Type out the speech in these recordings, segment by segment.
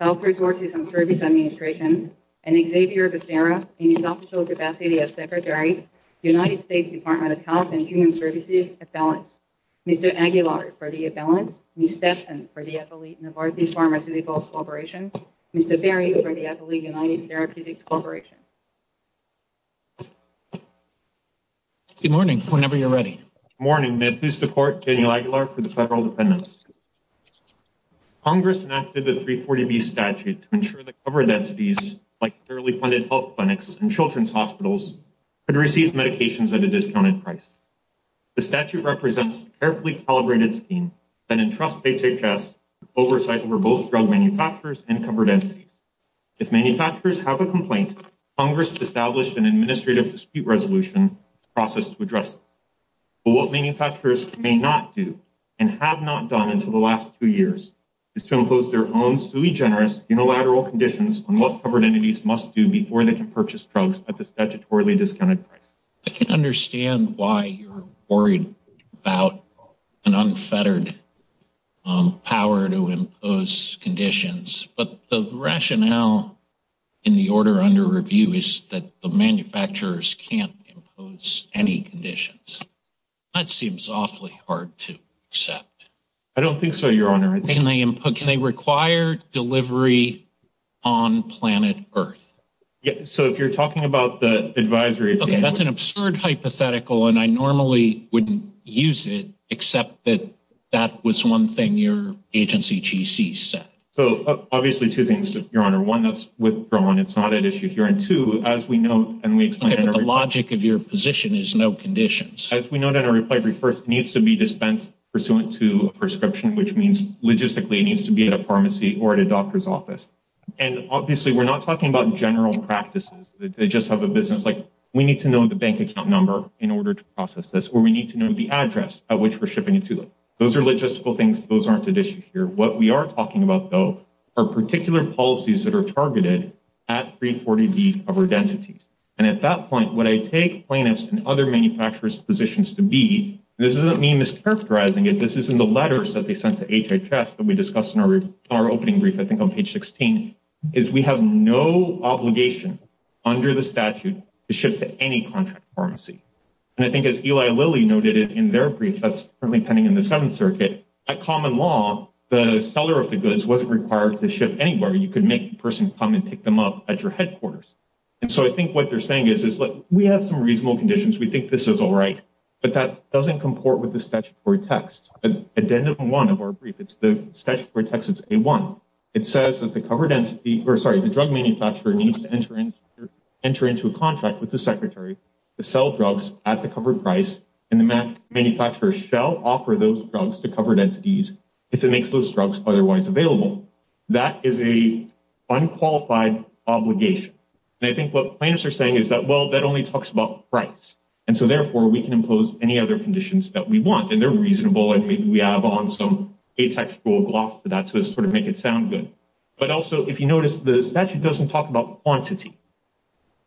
Health Resources and Services Administration, Xavier Becerra, Secretary, United States Department of Health and Human Services, Mr. Aguilar for the imbalance, Ms. Stetson for the Affiliate Novartis Pharmaceuticals Corporation, Mr. Berry for the Affiliate United Therapeutics Corporation. Good morning, whenever you're ready. Good morning, may I please support Daniel Aguilar for the federal defendants. Congress enacted the 340B statute to ensure that covered entities, like federally funded health clinics and children's hospitals, could receive medications at a discounted price. The statute represents a carefully calibrated scheme that entrusts HHS with oversight over both drug manufacturers and covered entities. If manufacturers have a complaint, Congress established an Administrative Dispute Resolution process to address it. But what manufacturers may not do, and have not done until the last two years, is to impose their own sui generis unilateral conditions on what covered entities must do before they can purchase drugs at the statutorily discounted price. I can understand why you're worried about an unfettered power to impose conditions, but the rationale in the order under review is that the manufacturers can't impose any conditions. That seems awfully hard to accept. I don't think so, Your Honor. Can they require delivery on planet Earth? So if you're talking about the advisory... Okay, that's an absurd hypothetical, and I normally wouldn't use it, except that that was one thing your agency GC said. So, obviously, two things, Your Honor. One, that's withdrawn. It's not at issue here. And two, as we know, and we... Okay, but the logic of your position is no conditions. As we know that a replicant needs to be dispensed pursuant to a prescription, which means logistically it needs to be at a pharmacy or at a doctor's office. And, obviously, we're not talking about general practices. They just have a business. Like, we need to know the bank account number in order to process this, or we need to know the address at which we're shipping it to them. Those are logistical things. Those aren't at issue here. What we are talking about, though, are particular policies that are targeted at 340B covered entities. And at that point, what I take plaintiffs and other manufacturers' positions to be, and this isn't me mischaracterizing it. This is in the letters that they sent to HHS that we discussed in our opening brief, I think on page 16, is we have no obligation under the statute to ship to any contract pharmacy. And I think, as Eli Lilly noted in their brief that's currently pending in the Seventh Circuit, at common law, the seller of the goods wasn't required to ship anywhere. You could make the person come and pick them up at your headquarters. And so I think what they're saying is, look, we have some reasonable conditions. We think this is all right. But that doesn't comport with the statutory text. Addendum 1 of our brief, it's the statutory text, it's A1. It says that the drug manufacturer needs to enter into a contract with the secretary to sell drugs at the covered price, and the manufacturer shall offer those drugs to covered entities if it makes those drugs otherwise available. That is an unqualified obligation. And I think what plaintiffs are saying is that, well, that only talks about price. And so, therefore, we can impose any other conditions that we want. And they're reasonable, and maybe we have on some A-textual gloss to that to sort of make it sound good. But also, if you notice, the statute doesn't talk about quantity.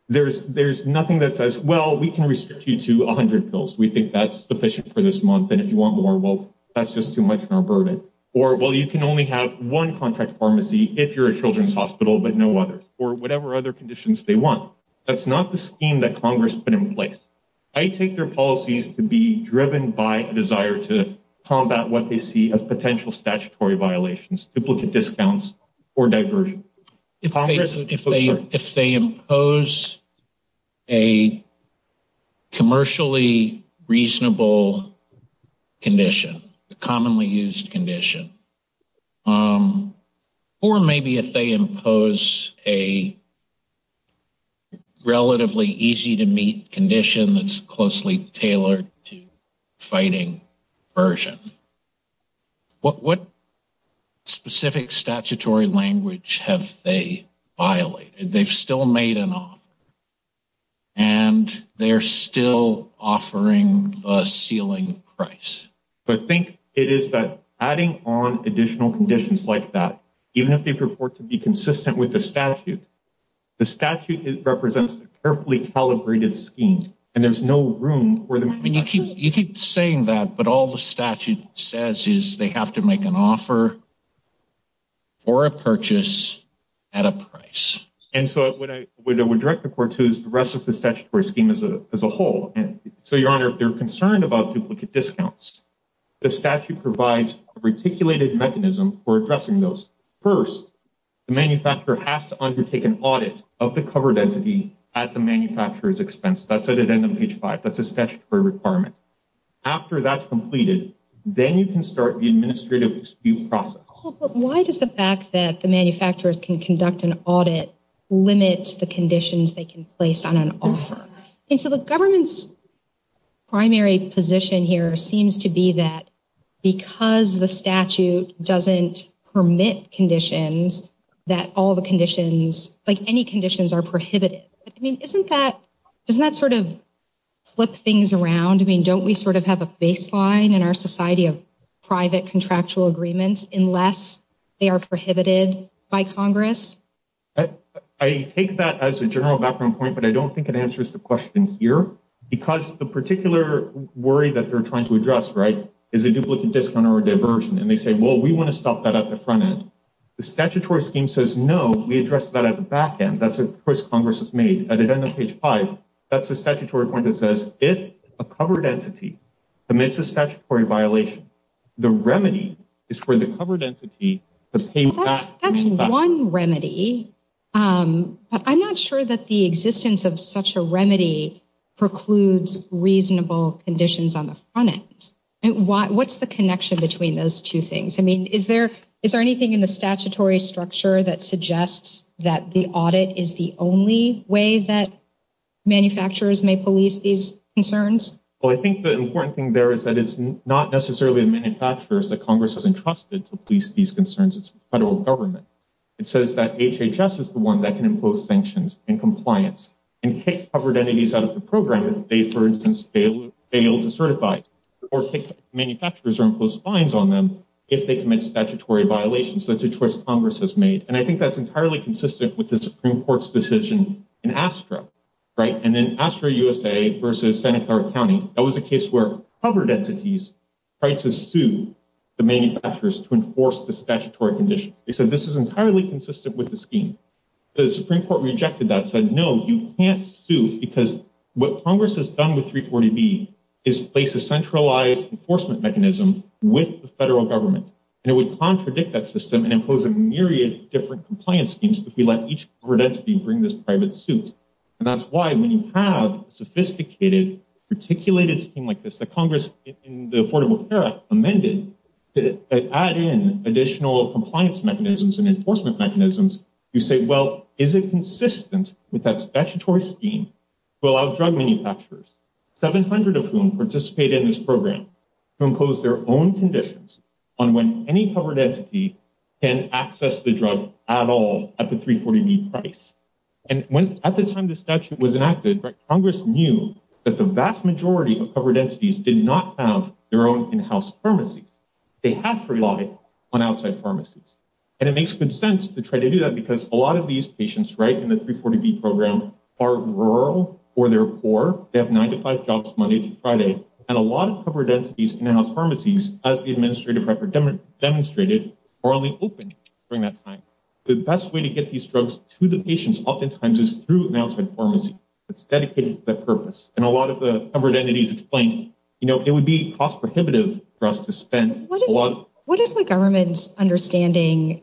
There's nothing that says, well, we can restrict you to 100 pills. We think that's sufficient for this month, and if you want more, well, that's just too much of a burden. Or, well, you can only have one contact pharmacy if you're a children's hospital, but no others. Or whatever other conditions they want. That's not the scheme that Congress put in place. I take their policies to be driven by a desire to combat what they see as potential statutory violations, duplicate discounts, or diversion. If they impose a commercially reasonable condition, a commonly used condition, or maybe if they impose a relatively easy-to-meet condition that's closely tailored to fighting diversion, what specific statutory language have they violated? They've still made an offer. And they're still offering a ceiling price. I think it is that adding on additional conditions like that, even if they purport to be consistent with the statute, the statute represents a carefully calibrated scheme, and there's no room for them. You keep saying that, but all the statute says is they have to make an offer for a purchase at a price. And so what I would direct the court to is the rest of the statutory scheme as a whole. So, Your Honor, if they're concerned about duplicate discounts, the statute provides a reticulated mechanism for addressing those. First, the manufacturer has to undertake an audit of the cover density at the manufacturer's expense. That's at the end of page 5. That's a statutory requirement. After that's completed, then you can start the administrative dispute process. But why does the fact that the manufacturers can conduct an audit limit the conditions they can place on an offer? And so the government's primary position here seems to be that because the statute doesn't permit conditions, that all the conditions, like any conditions, are prohibited. I mean, doesn't that sort of flip things around? I mean, don't we sort of have a baseline in our society of private contractual agreements unless they are prohibited by Congress? I take that as a general background point, but I don't think it answers the question here, because the particular worry that they're trying to address, right, is a duplicate discount or a diversion. And they say, well, we want to stop that at the front end. The statutory scheme says, no, we address that at the back end. That's a choice Congress has made. At the end of page 5, that's a statutory point that says, if a covered entity commits a statutory violation, the remedy is for the covered entity to pay back. That's one remedy, but I'm not sure that the existence of such a remedy precludes reasonable conditions on the front end. What's the connection between those two things? I mean, is there anything in the statutory structure that suggests that the audit is the only way that manufacturers may police these concerns? Well, I think the important thing there is that it's not necessarily the manufacturers that Congress has entrusted to police these concerns. It's the federal government. It says that HHS is the one that can impose sanctions and compliance and kick covered entities out of the program if they, for instance, fail to certify or kick manufacturers or impose fines on them if they commit statutory violations. That's a choice Congress has made. And I think that's entirely consistent with the Supreme Court's decision in ASTRA, right? And then ASTRA-USA versus Santa Clara County, that was a case where covered entities tried to sue the manufacturers to enforce the statutory conditions. They said this is entirely consistent with the scheme. The Supreme Court rejected that, said, no, you can't sue because what Congress has done with 340B is place a centralized enforcement mechanism with the federal government. And it would contradict that system and impose a myriad of different compliance schemes if we let each covered entity bring this private suit. And that's why when you have a sophisticated, articulated scheme like this that Congress in the Affordable Care Act amended to add in additional compliance mechanisms and enforcement mechanisms, you say, well, is it consistent with that statutory scheme to allow drug manufacturers, 700 of whom participate in this program, to impose their own conditions on when any covered entity can access the drug at all at the 340B price. And at the time the statute was enacted, Congress knew that the vast majority of covered entities did not have their own in-house pharmacies. They had to rely on outside pharmacies. And it makes good sense to try to do that because a lot of these patients, right, in the 340B program are rural or they're poor. They have nine to five jobs Monday through Friday. And a lot of covered entities in house pharmacies, as the administrative record demonstrated, are only open during that time. The best way to get these drugs to the patients oftentimes is through an outside pharmacy that's dedicated to that purpose. And a lot of the covered entities explain, you know, it would be cost prohibitive for us to spend a lot. What is the government's understanding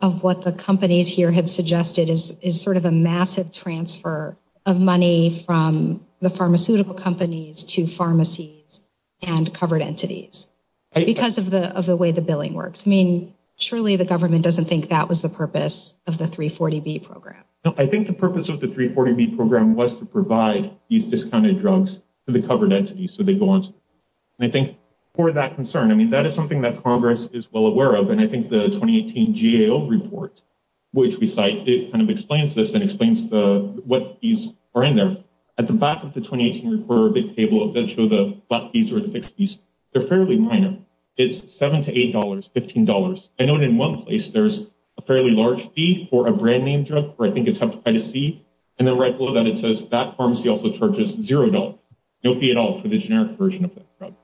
of what the companies here have suggested is sort of a massive transfer of money from the pharmaceutical companies to pharmacies and covered entities because of the way the billing works? I mean, surely the government doesn't think that was the purpose of the 340B program. I think the purpose of the 340B program was to provide these discounted drugs to the covered entities. So they go on. And I think for that concern, I mean, that is something that Congress is well aware of. And I think the 2018 GAO report, which we cite, it kind of explains this and explains what fees are in there. At the back of the 2018 report, the table that show the fees or the fixed fees, they're fairly minor. It's $7 to $8, $15. I know in one place there's a fairly large fee for a brand name drug where I think it's Hepatitis C. And then right below that, it says that pharmacy also charges $0. No fee at all for the generic version of that drug.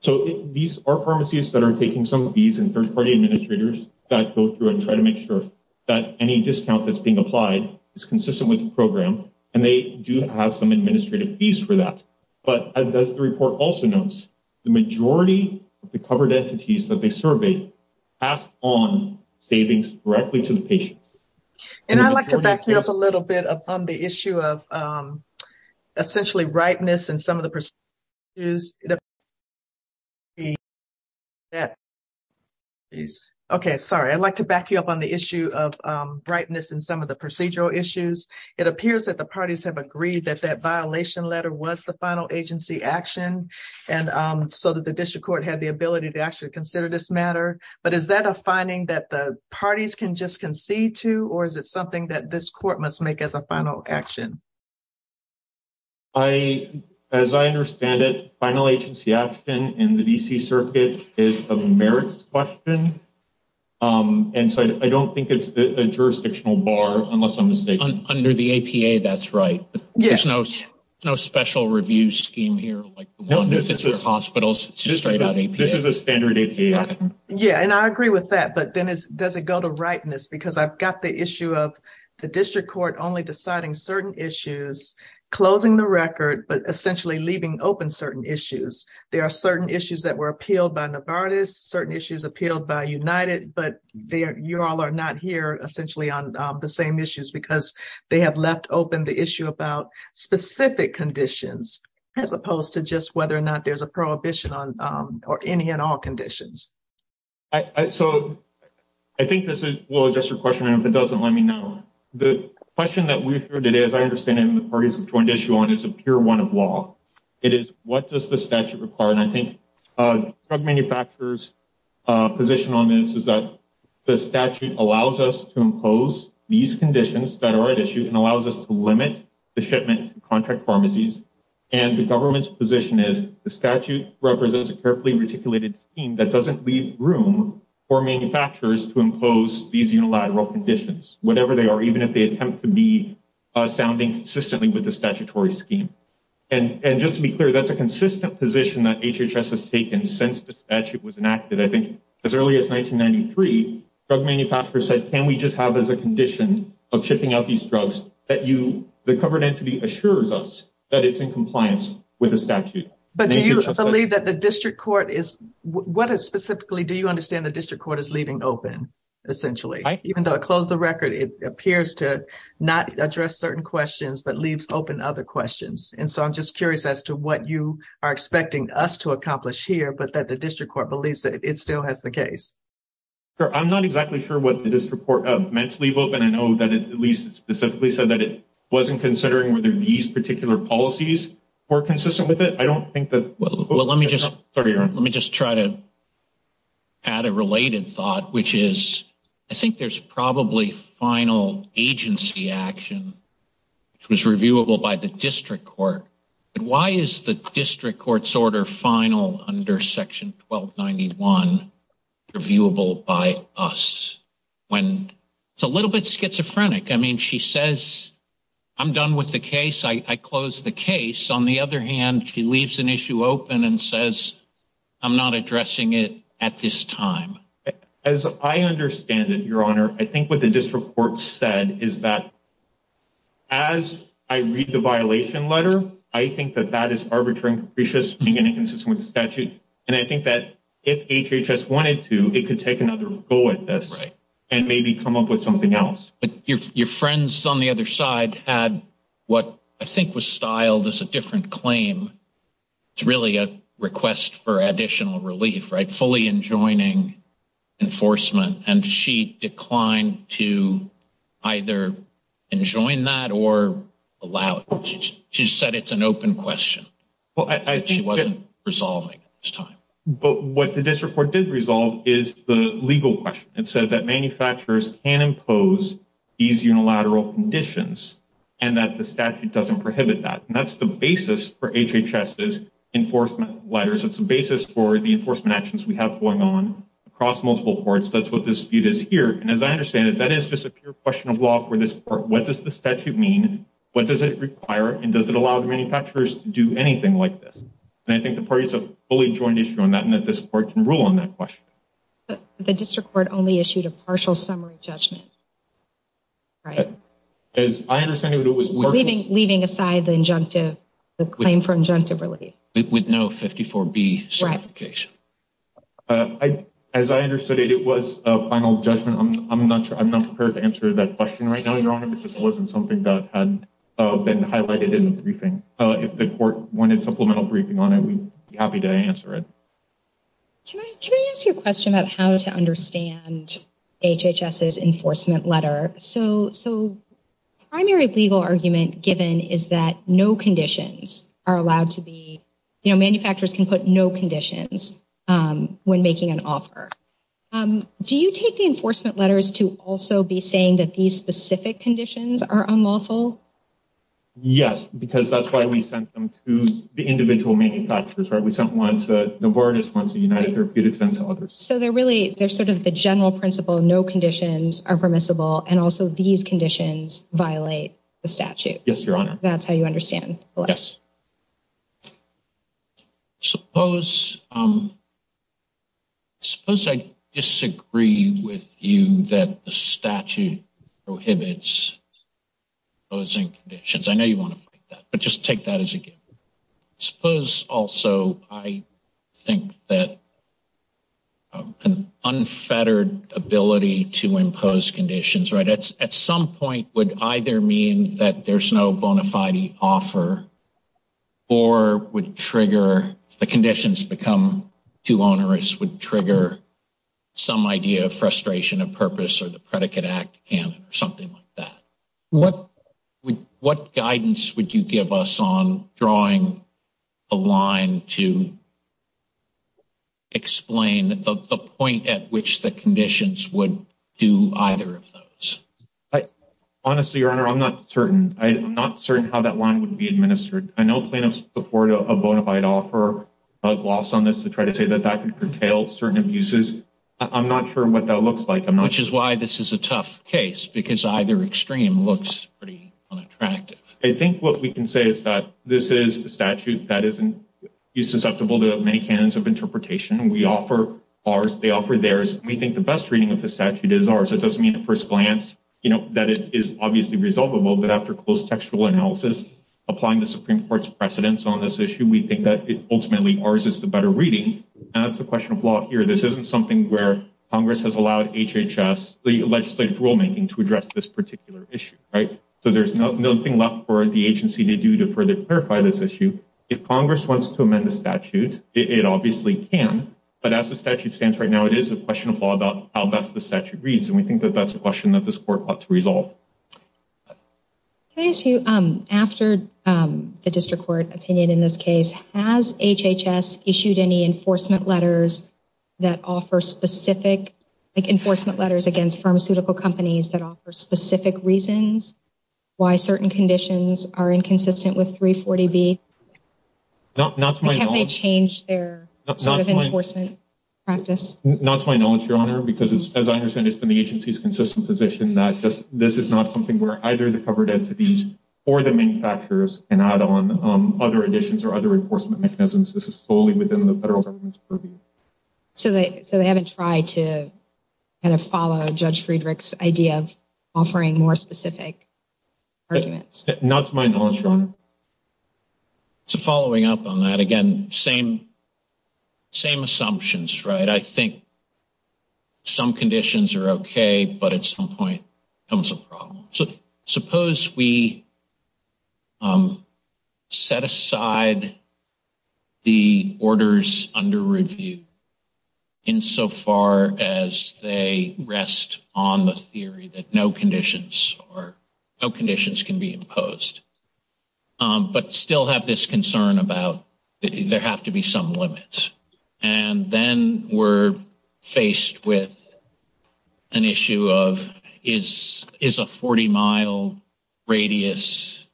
So these are pharmacies that are taking some of these and third-party administrators that go through and try to make sure that any discount that's being applied is consistent with the program. And they do have some administrative fees for that. But as the report also notes, the majority of the covered entities that they surveyed passed on savings directly to the patients. And I'd like to back you up a little bit on the issue of essentially ripeness in some of the procedures. OK, sorry, I'd like to back you up on the issue of ripeness in some of the procedural issues. It appears that the parties have agreed that that violation letter was the final agency action. And so that the district court had the ability to actually consider this matter. But is that a finding that the parties can just concede to, or is it something that this court must make as a final action? As I understand it, final agency action in the D.C. circuit is a merits question. And so I don't think it's a jurisdictional bar, unless I'm mistaken. Under the APA, that's right. Yes. There's no special review scheme here. This is a standard APA. Yeah, and I agree with that. But then does it go to ripeness? Because I've got the issue of the district court only deciding certain issues, closing the record, but essentially leaving open certain issues. There are certain issues that were appealed by Novartis, certain issues appealed by United. But you all are not here essentially on the same issues because they have left open the issue about specific conditions, as opposed to just whether or not there's a prohibition on or any and all conditions. So I think this will address your question, and if it doesn't, let me know. The question that we heard today, as I understand it, and the parties have joined issue on is a pure one of law. It is what does the statute require? And I think drug manufacturers' position on this is that the statute allows us to impose these conditions that are at issue and allows us to limit the shipment to contract pharmacies. And the government's position is the statute represents a carefully articulated scheme that doesn't leave room for manufacturers to impose these unilateral conditions, whatever they are, even if they attempt to be sounding consistently with the statutory scheme. And just to be clear, that's a consistent position that HHS has taken since the statute was enacted. I think as early as 1993, drug manufacturers said, can we just have as a condition of shipping out these drugs that the covered entity assures us that it's in compliance with the statute. But do you believe that the district court is, what specifically do you understand the district court is leaving open, essentially? Even though it closed the record, it appears to not address certain questions, but leaves open other questions. And so I'm just curious as to what you are expecting us to accomplish here, but that the district court believes that it still has the case. I'm not exactly sure what the district court meant to leave open. I know that it at least specifically said that it wasn't considering whether these particular policies were consistent with it. Let me just try to add a related thought, which is, I think there's probably final agency action which was reviewable by the district court. But why is the district court's order final under section 1291 reviewable by us? It's a little bit schizophrenic. I mean, she says, I'm done with the case. I closed the case. On the other hand, she leaves an issue open and says, I'm not addressing it at this time. As I understand it, Your Honor, I think what the district court said is that as I read the violation letter, I think that that is arbitrary and capricious being inconsistent with the statute. And I think that if HHS wanted to, it could take another go at this and maybe come up with something else. But your friends on the other side had what I think was styled as a different claim. It's really a request for additional relief, right, fully enjoining enforcement. And she declined to either enjoin that or allow it. She said it's an open question. She wasn't resolving at this time. But what the district court did resolve is the legal question. It said that manufacturers can impose these unilateral conditions and that the statute doesn't prohibit that. And that's the basis for HHS's enforcement letters. It's the basis for the enforcement actions we have going on across multiple courts. That's what this dispute is here. And as I understand it, that is just a pure question of law for this court. What does the statute mean? What does it require? And does it allow the manufacturers to do anything like this? And I think the parties have a fully joined issue on that and that this court can rule on that question. But the district court only issued a partial summary judgment, right? As I understand it, it was working. Leaving aside the injunctive, the claim for injunctive relief. With no 54B certification. Right. As I understood it, it was a final judgment. I'm not prepared to answer that question right now, Your Honor, because it wasn't something that had been highlighted in the briefing. If the court wanted supplemental briefing on it, we'd be happy to answer it. Can I ask you a question about how to understand HHS's enforcement letter? So primary legal argument given is that no conditions are allowed to be, you know, manufacturers can put no conditions when making an offer. Do you take the enforcement letters to also be saying that these specific conditions are unlawful? Yes, because that's why we sent them to the individual manufacturers, right? We sent one to Novartis, one to United Therapeutics and to others. So they're really they're sort of the general principle. No conditions are permissible. And also these conditions violate the statute. Yes, Your Honor. That's how you understand. Yes. Suppose I disagree with you that the statute prohibits imposing conditions. I know you want to fight that, but just take that as a given. Suppose also I think that an unfettered ability to impose conditions, right, at some point would either mean that there's no bona fide offer or would trigger the conditions become too onerous, would trigger some idea of frustration of purpose or the predicate act canon or something like that. What guidance would you give us on drawing a line to explain the point at which the conditions would do either of those? Honestly, Your Honor, I'm not certain. I'm not certain how that line would be administered. I know plaintiffs support a bona fide offer. I'd gloss on this to try to say that that could curtail certain abuses. I'm not sure what that looks like. Which is why this is a tough case, because either extreme looks pretty unattractive. I think what we can say is that this is a statute that isn't susceptible to many canons of interpretation. We offer ours. They offer theirs. We think the best reading of the statute is ours. It doesn't mean at first glance, you know, that it is obviously resolvable. But after close textual analysis, applying the Supreme Court's precedence on this issue, we think that ultimately ours is the better reading. That's the question of law here. This isn't something where Congress has allowed HHS legislative rulemaking to address this particular issue, right? So there's nothing left for the agency to do to further clarify this issue. If Congress wants to amend the statute, it obviously can. But as the statute stands right now, it is a question of law about how best the statute reads. And we think that that's a question that this court ought to resolve. Can I ask you, after the district court opinion in this case, has HHS issued any enforcement letters that offer specific, like enforcement letters against pharmaceutical companies that offer specific reasons why certain conditions are inconsistent with 340B? Not to my knowledge. Can't they change their sort of enforcement practice? Not to my knowledge, Your Honor, because as I understand, it's been the agency's consistent position that this is not something where either the covered entities or the manufacturers can add on other additions or other enforcement mechanisms. This is solely within the federal government's purview. So they haven't tried to kind of follow Judge Friedrich's idea of offering more specific arguments? Not to my knowledge, Your Honor. So following up on that, again, same assumptions, right? I think some conditions are okay, but at some point comes a problem. So suppose we set aside the orders under review insofar as they rest on the theory that no conditions can be imposed, but still have this concern about there have to be some limits. And then we're faced with an issue of is a 40-mile radius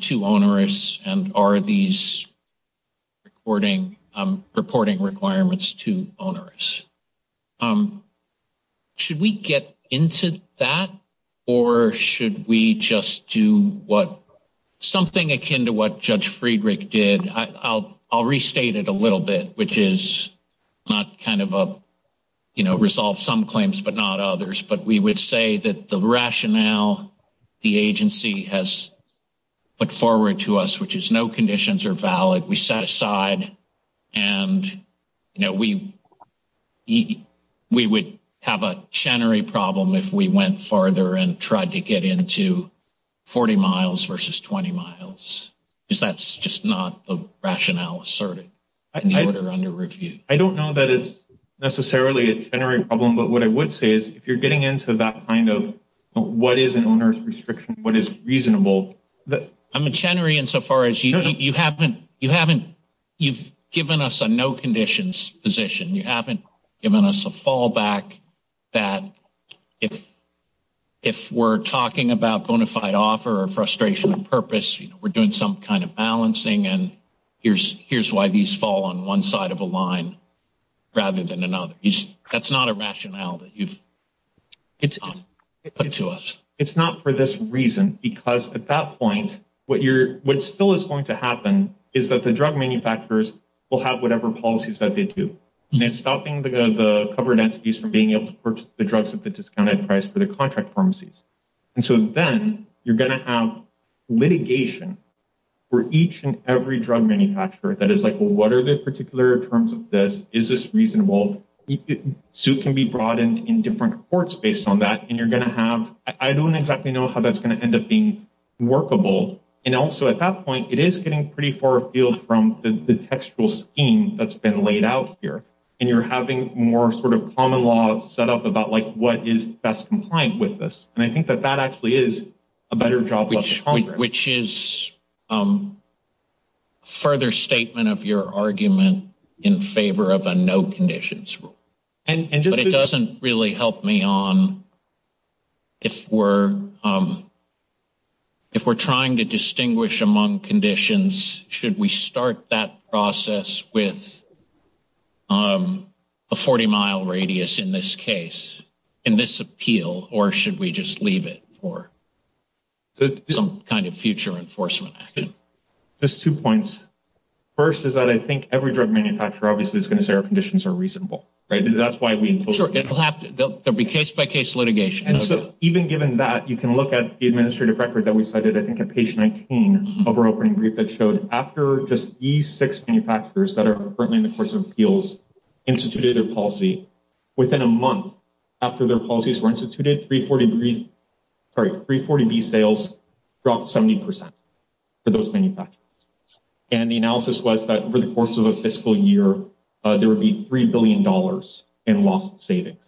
too onerous, and are these reporting requirements too onerous? Should we get into that, or should we just do something akin to what Judge Friedrich did? I'll restate it a little bit, which is not kind of a, you know, resolve some claims but not others, but we would say that the rationale the agency has put forward to us, which is no conditions are valid, we set aside and, you know, we would have a Chenery problem if we went farther and tried to get into 40 miles versus 20 miles. That's just not the rationale asserted in the order under review. I don't know that it's necessarily a Chenery problem, but what I would say is if you're getting into that kind of what is an onerous restriction, what is reasonable. I'm a Chenery insofar as you haven't – you've given us a no conditions position. You haven't given us a fallback that if we're talking about bona fide offer or frustration of purpose, you know, we're doing some kind of balancing and here's why these fall on one side of a line rather than another. That's not a rationale that you've put to us. It's not for this reason, because at that point what still is going to happen is that the drug manufacturers will have whatever policies that they do. And it's stopping the covered entities from being able to purchase the drugs at the discounted price for the contract pharmacies. And so then you're going to have litigation for each and every drug manufacturer that is like, well, what are the particular terms of this? Is this reasonable? So it can be broadened in different courts based on that. And you're going to have – I don't exactly know how that's going to end up being workable. And also at that point, it is getting pretty far afield from the textual scheme that's been laid out here. And you're having more sort of common law set up about like what is best compliant with this. And I think that that actually is a better job. Which is a further statement of your argument in favor of a no conditions rule. But it doesn't really help me on if we're trying to distinguish among conditions, should we start that process with a 40-mile radius in this case, in this appeal, or should we just leave it for? Some kind of future enforcement action. Just two points. First is that I think every drug manufacturer obviously is going to say our conditions are reasonable. Right? And that's why we – Sure. There will be case-by-case litigation. And so even given that, you can look at the administrative record that we cited, I think, at page 19 of our opening brief that showed after just E6 manufacturers that are currently in the course of appeals instituted their policy, within a month after their policies were instituted, 340B sales dropped 70% for those manufacturers. And the analysis was that for the course of a fiscal year, there would be $3 billion in lost savings.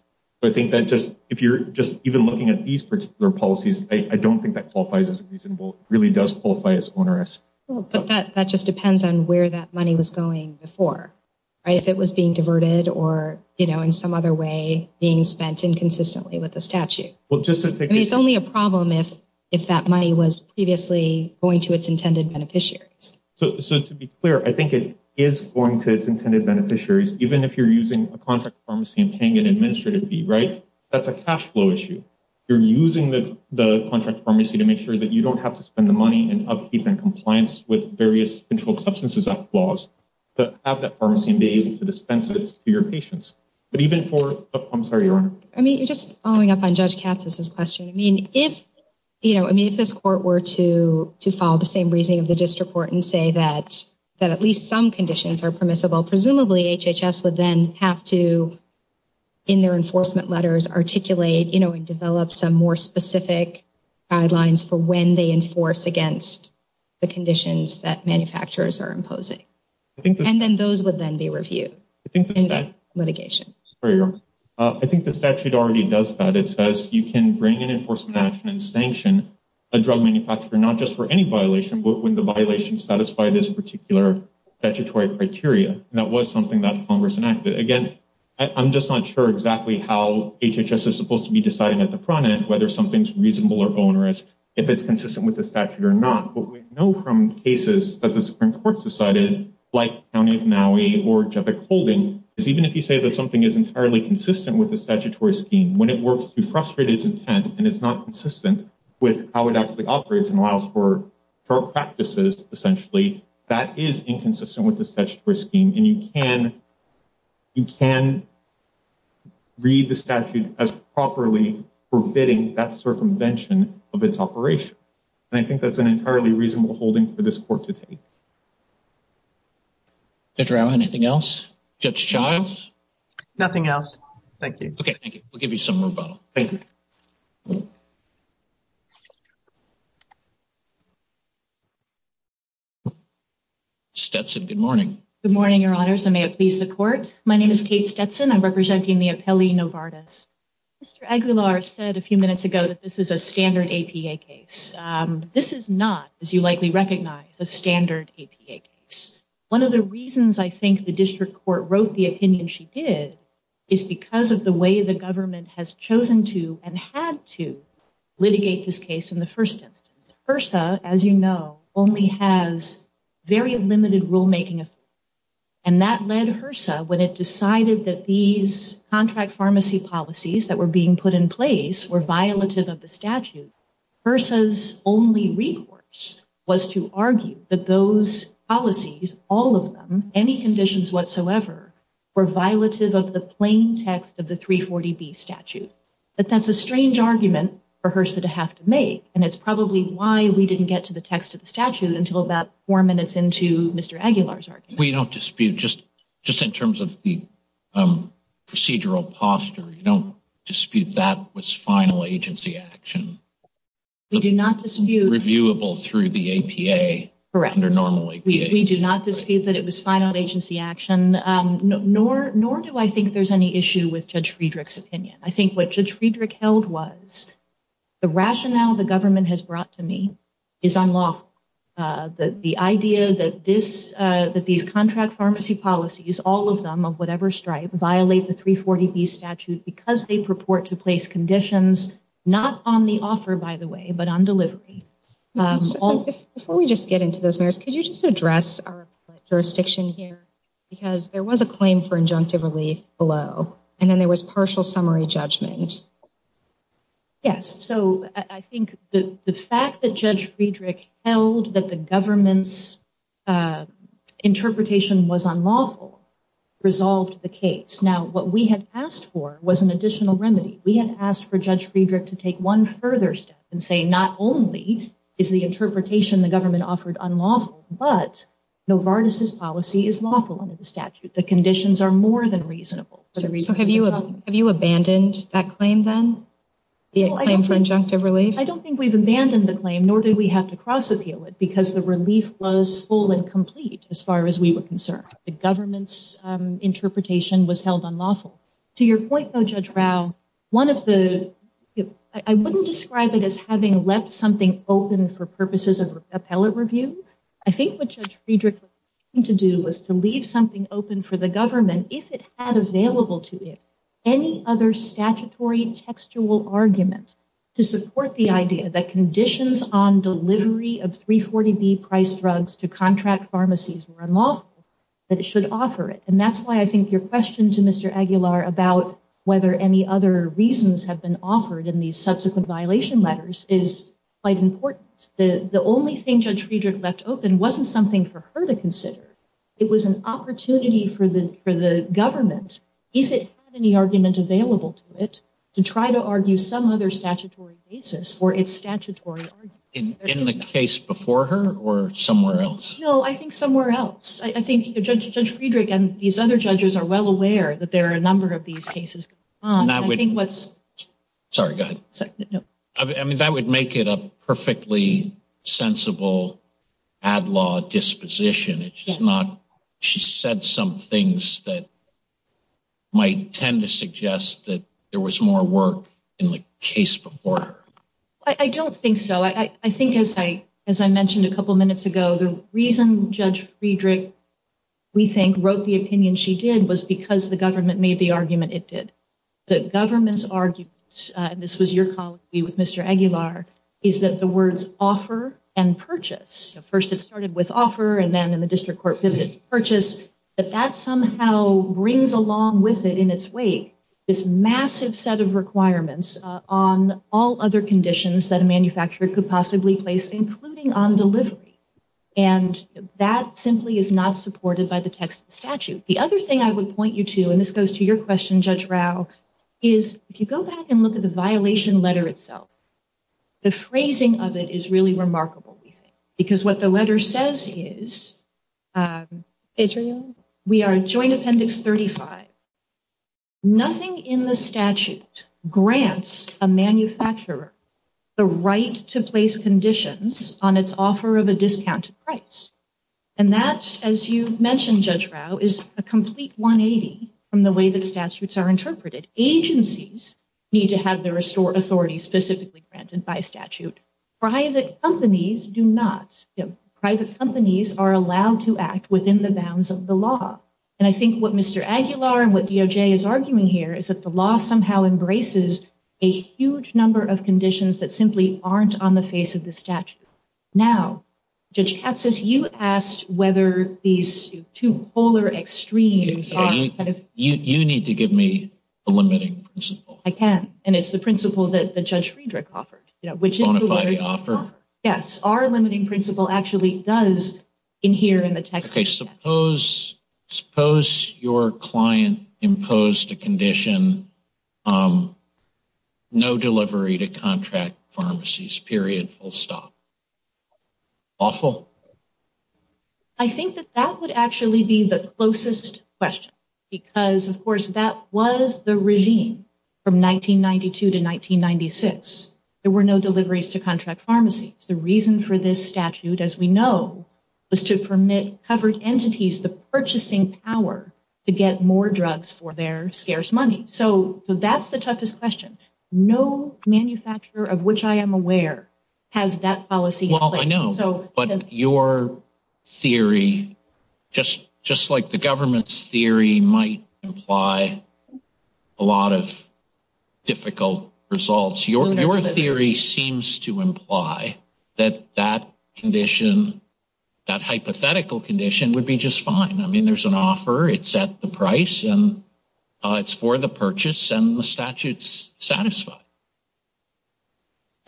So I think that if you're just even looking at these particular policies, I don't think that qualifies as reasonable. It really does qualify as onerous. But that just depends on where that money was going before. Right? If it was being diverted or, you know, in some other way being spent inconsistently with the statute. Well, just to take a – I mean, it's only a problem if that money was previously going to its intended beneficiaries. So to be clear, I think it is going to its intended beneficiaries, even if you're using a contract pharmacy and paying an administrative fee. Right? That's a cash flow issue. You're using the contract pharmacy to make sure that you don't have to spend the money and upkeep and compliance with various controlled substances laws to have that pharmacy and be able to dispense it to your patients. But even for – I'm sorry, Your Honor. I mean, just following up on Judge Katsos' question, I mean, if, you know, I mean, if this court were to follow the same reasoning of the district court and say that at least some conditions are permissible, well, presumably HHS would then have to, in their enforcement letters, articulate, you know, and develop some more specific guidelines for when they enforce against the conditions that manufacturers are imposing. And then those would then be reviewed in the litigation. I think the statute already does that. It says you can bring an enforcement action and sanction a drug manufacturer not just for any violation, but when the violations satisfy this particular statutory criteria. And that was something that Congress enacted. Again, I'm just not sure exactly how HHS is supposed to be deciding at the front end whether something's reasonable or onerous, if it's consistent with the statute or not. What we know from cases that the Supreme Court's decided, like County of Maui or Jevic Holding, is even if you say that something is entirely consistent with the statutory scheme, when it works to frustrate its intent and it's not consistent with how it actually operates and allows for practices, essentially, that is inconsistent with the statutory scheme. And you can read the statute as properly forbidding that circumvention of its operation. And I think that's an entirely reasonable holding for this court to take. Judge Rao, anything else? Judge Childs? Nothing else. Thank you. Okay, thank you. We'll give you some rebuttal. Thank you. Stetson, good morning. Good morning, Your Honors, and may it please the Court. My name is Kate Stetson. I'm representing the appellee Novartis. Mr. Aguilar said a few minutes ago that this is a standard APA case. This is not, as you likely recognize, a standard APA case. One of the reasons I think the district court wrote the opinion she did is because of the way the government has chosen to and had to litigate this case in the first instance. HRSA, as you know, only has very limited rulemaking authority. And that led HRSA, when it decided that these contract pharmacy policies that were being put in place were violative of the statute, HRSA's only recourse was to argue that those policies, all of them, any conditions whatsoever, were violative of the plain text of the 340B statute. But that's a strange argument for HRSA to have to make, and it's probably why we didn't get to the text of the statute until about four minutes into Mr. Aguilar's argument. We don't dispute, just in terms of the procedural posture, we don't dispute that was final agency action. We do not dispute. Reviewable through the APA. Correct. Under normal APA. We do not dispute that it was final agency action, nor do I think there's any issue with Judge Friedrich's opinion. I think what Judge Friedrich held was the rationale the government has brought to me is unlawful. The idea that these contract pharmacy policies, all of them, of whatever stripe, violate the 340B statute because they purport to place conditions not on the offer, by the way, but on delivery. Before we just get into those matters, could you just address our jurisdiction here? Because there was a claim for injunctive relief below, and then there was partial summary judgment. Yes. So I think the fact that Judge Friedrich held that the government's interpretation was unlawful resolved the case. Now, what we had asked for was an additional remedy. We had asked for Judge Friedrich to take one further step and say not only is the interpretation the government offered unlawful, but Novartis's policy is lawful under the statute. The conditions are more than reasonable. So have you abandoned that claim then, the claim for injunctive relief? I don't think we've abandoned the claim, nor did we have to cross-appeal it, because the relief was full and complete as far as we were concerned. The government's interpretation was held unlawful. To your point, though, Judge Rao, I wouldn't describe it as having left something open for purposes of appellate review. I think what Judge Friedrich was trying to do was to leave something open for the government, if it had available to it any other statutory textual argument to support the idea that conditions on delivery of 340B-priced drugs to contract pharmacies were unlawful, that it should offer it. And that's why I think your question to Mr. Aguilar about whether any other reasons have been offered in these subsequent violation letters is quite important. The only thing Judge Friedrich left open wasn't something for her to consider. It was an opportunity for the government, if it had any argument available to it, to try to argue some other statutory basis for its statutory argument. In the case before her or somewhere else? No, I think somewhere else. I think Judge Friedrich and these other judges are well aware that there are a number of these cases going on. Sorry, go ahead. No. I mean, that would make it a perfectly sensible ad law disposition. She said some things that might tend to suggest that there was more work in the case before her. I don't think so. I think, as I mentioned a couple minutes ago, the reason Judge Friedrich, we think, wrote the opinion she did was because the government made the argument it did. The government's argument, and this was your colleague with Mr. Aguilar, is that the words offer and purchase, first it started with offer and then in the district court pivoted to purchase, that that somehow brings along with it in its wake this massive set of requirements on all other conditions that a manufacturer could possibly place, including on delivery. And that simply is not supported by the text of the statute. The other thing I would point you to, and this goes to your question, Judge Rao, is if you go back and look at the violation letter itself, the phrasing of it is really remarkable, we think, because what the letter says is, Adrienne, we are Joint Appendix 35. Nothing in the statute grants a manufacturer the right to place conditions on its offer of a discounted price. And that, as you mentioned, Judge Rao, is a complete 180 from the way the statutes are interpreted. Agencies need to have their authority specifically granted by statute. Private companies do not. Private companies are allowed to act within the bounds of the law. And I think what Mr. Aguilar and what DOJ is arguing here is that the law somehow embraces a huge number of conditions that simply aren't on the face of the statute. Now, Judge Katsas, you asked whether these two polar extremes are kind of— You need to give me a limiting principle. I can, and it's the principle that Judge Friedrich offered. Bonify the offer? Yes. Okay, suppose your client imposed a condition, no delivery to contract pharmacies, period, full stop. Awful? I think that that would actually be the closest question because, of course, that was the regime from 1992 to 1996. There were no deliveries to contract pharmacies. The reason for this statute, as we know, was to permit covered entities the purchasing power to get more drugs for their scarce money. So that's the toughest question. No manufacturer of which I am aware has that policy in place. Well, I know, but your theory, just like the government's theory, might imply a lot of difficult results. Your theory seems to imply that that condition, that hypothetical condition, would be just fine. I mean, there's an offer. It's at the price, and it's for the purchase, and the statute's satisfied.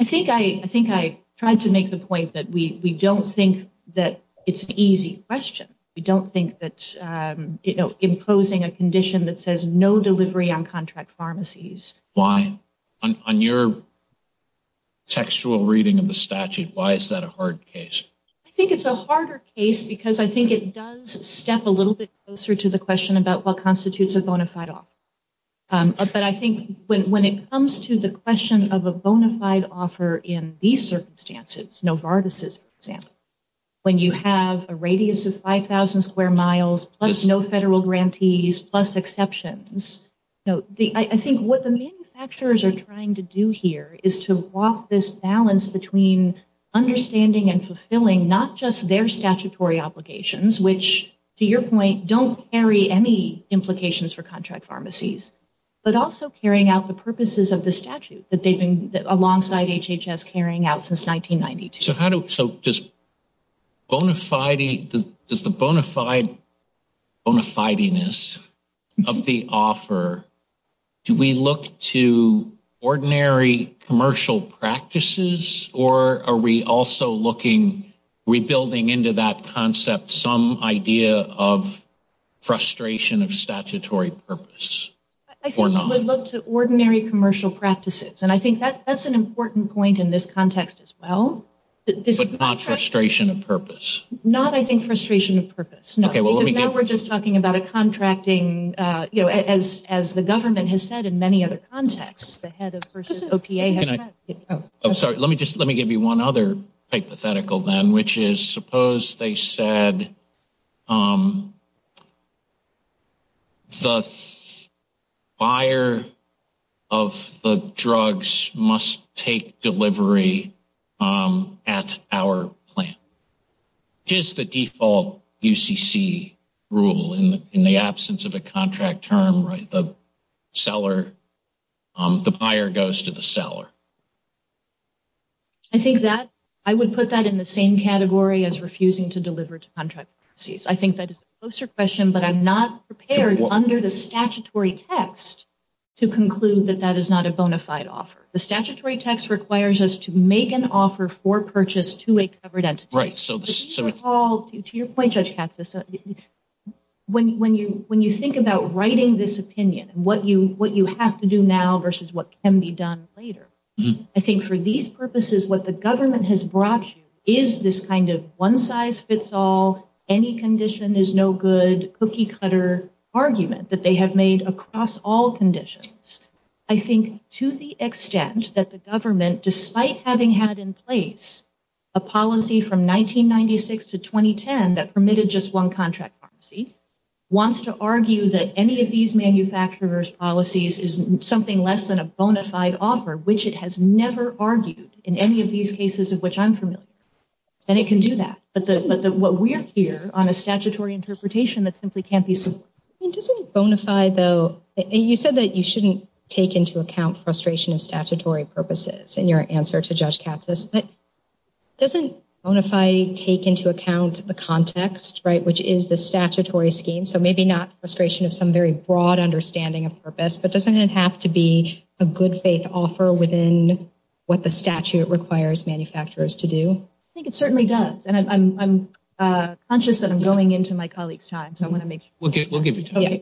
I think I tried to make the point that we don't think that it's an easy question. We don't think that imposing a condition that says no delivery on contract pharmacies— On your textual reading of the statute, why is that a hard case? I think it's a harder case because I think it does step a little bit closer to the question about what constitutes a bona fide offer. But I think when it comes to the question of a bona fide offer in these circumstances, Novartis's, for example, when you have a radius of 5,000 square miles plus no federal grantees plus exceptions, I think what the manufacturers are trying to do here is to walk this balance between understanding and fulfilling not just their statutory obligations, which, to your point, don't carry any implications for contract pharmacies, but also carrying out the purposes of the statute that they've been, alongside HHS, carrying out since 1992. So does the bona fide-ness of the offer, do we look to ordinary commercial practices, or are we also rebuilding into that concept some idea of frustration of statutory purpose? I think we look to ordinary commercial practices, and I think that's an important point in this context as well. But not frustration of purpose? Not, I think, frustration of purpose, no. Because now we're just talking about a contracting, as the government has said in many other contexts, the head of versus OPA. I'm sorry, let me give you one other hypothetical then, which is suppose they said the buyer of the drugs must take delivery at our plant. Which is the default UCC rule in the absence of a contract term, right? The seller, the buyer goes to the seller. I think that, I would put that in the same category as refusing to deliver to contract pharmacies. I think that is a closer question, but I'm not prepared under the statutory text to conclude that that is not a bona fide offer. The statutory text requires us to make an offer for purchase to a covered entity. To your point, Judge Katz, when you think about writing this opinion, what you have to do now versus what can be done later, I think for these purposes what the government has brought you is this kind of one size fits all, any condition is no good, cookie cutter argument that they have made across all conditions. I think to the extent that the government, despite having had in place a policy from 1996 to 2010 that permitted just one contract pharmacy, wants to argue that any of these manufacturers' policies is something less than a bona fide offer, which it has never argued in any of these cases of which I'm familiar. And it can do that, but what we're here on a statutory interpretation that simply can't be supported. It doesn't bona fide, though. You said that you shouldn't take into account frustration of statutory purposes in your answer to Judge Katz's, but doesn't bona fide take into account the context, right, which is the statutory scheme, so maybe not frustration of some very broad understanding of purpose, but doesn't it have to be a good faith offer within what the statute requires manufacturers to do? I think it certainly does, and I'm conscious that I'm going into my colleague's time, so I want to make sure. We'll give you time.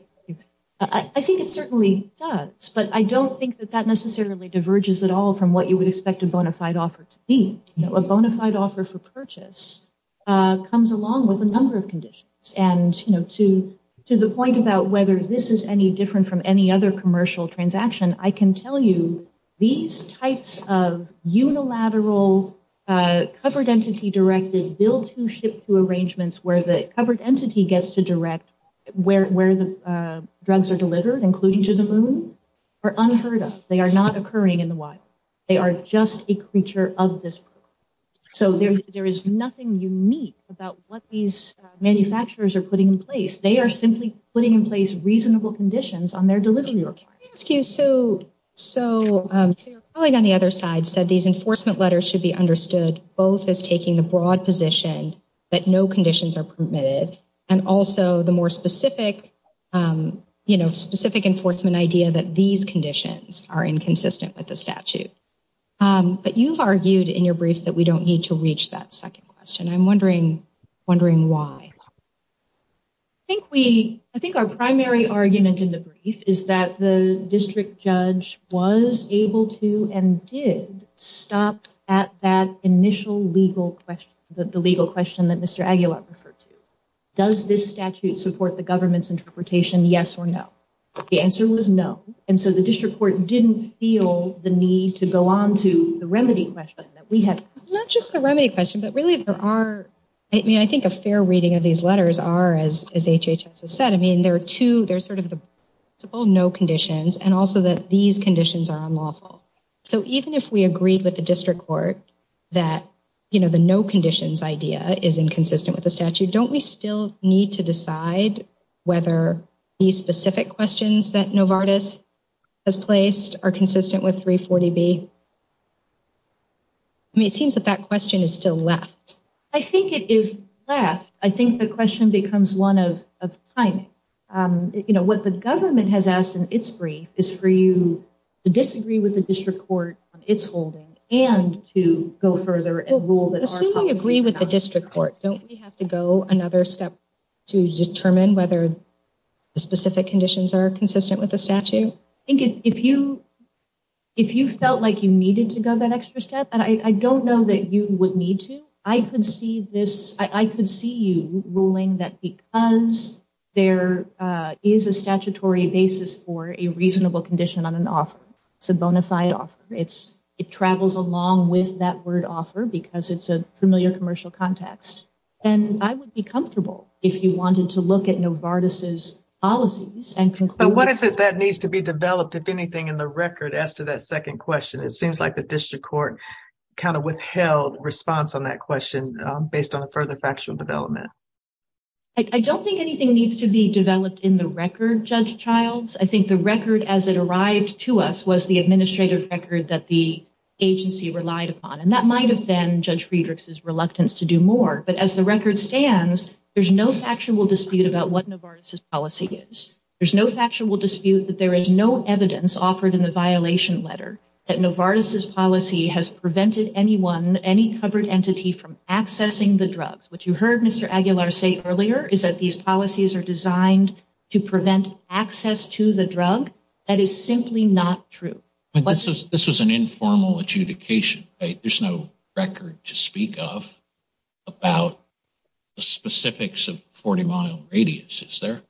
I think it certainly does, but I don't think that that necessarily diverges at all from what you would expect a bona fide offer to be. A bona fide offer for purchase comes along with a number of conditions, and to the point about whether this is any different from any other commercial transaction, I can tell you these types of unilateral covered entity directed, where the covered entity gets to direct where the drugs are delivered, including to the moon, are unheard of. They are not occurring in the wild. They are just a creature of this world. So there is nothing unique about what these manufacturers are putting in place. They are simply putting in place reasonable conditions on their delivery requirements. Let me ask you, so your colleague on the other side said these enforcement letters should be understood both as taking the broad position that no conditions are permitted and also the more specific enforcement idea that these conditions are inconsistent with the statute. But you've argued in your briefs that we don't need to reach that second question. I'm wondering why. I think our primary argument in the brief is that the district judge was able to and did stop at that initial legal question, the legal question that Mr. Aguilar referred to. Does this statute support the government's interpretation, yes or no? The answer was no, and so the district court didn't feel the need to go on to the remedy question that we had. It's not just the remedy question, but really there are, I mean, I think a fair reading of these letters are, as HHS has said, I mean, there are two, there's sort of the principle no conditions and also that these conditions are unlawful. So even if we agreed with the district court that, you know, the no conditions idea is inconsistent with the statute, don't we still need to decide whether these specific questions that Novartis has placed are consistent with 340B? I mean, it seems that that question is still left. I think it is left. I think the question becomes one of timing. You know, what the government has asked in its brief is for you to disagree with the district court on its holding and to go further and rule that our policy is not. Well, assuming you agree with the district court, don't we have to go another step to determine whether the specific conditions are consistent with the statute? I think if you felt like you needed to go that extra step, and I don't know that you would need to, I could see this, I could see you ruling that because there is a statutory basis for a reasonable condition on an offer, it's a bona fide offer. It travels along with that word offer because it's a familiar commercial context. And I would be comfortable if you wanted to look at Novartis' policies and conclude. But what is it that needs to be developed, if anything, in the record as to that second question? It seems like the district court kind of withheld response on that question based on a further factual development. I don't think anything needs to be developed in the record, Judge Childs. I think the record as it arrived to us was the administrative record that the agency relied upon, and that might have been Judge Friedrich's reluctance to do more. But as the record stands, there's no factual dispute about what Novartis' policy is. There's no factual dispute that there is no evidence offered in the violation letter that Novartis' policy has prevented anyone, any covered entity, from accessing the drugs. What you heard Mr. Aguilar say earlier is that these policies are designed to prevent access to the drug. That is simply not true. But this was an informal adjudication, right? There's no record to speak of about the specifics of 40-mile radius, is there?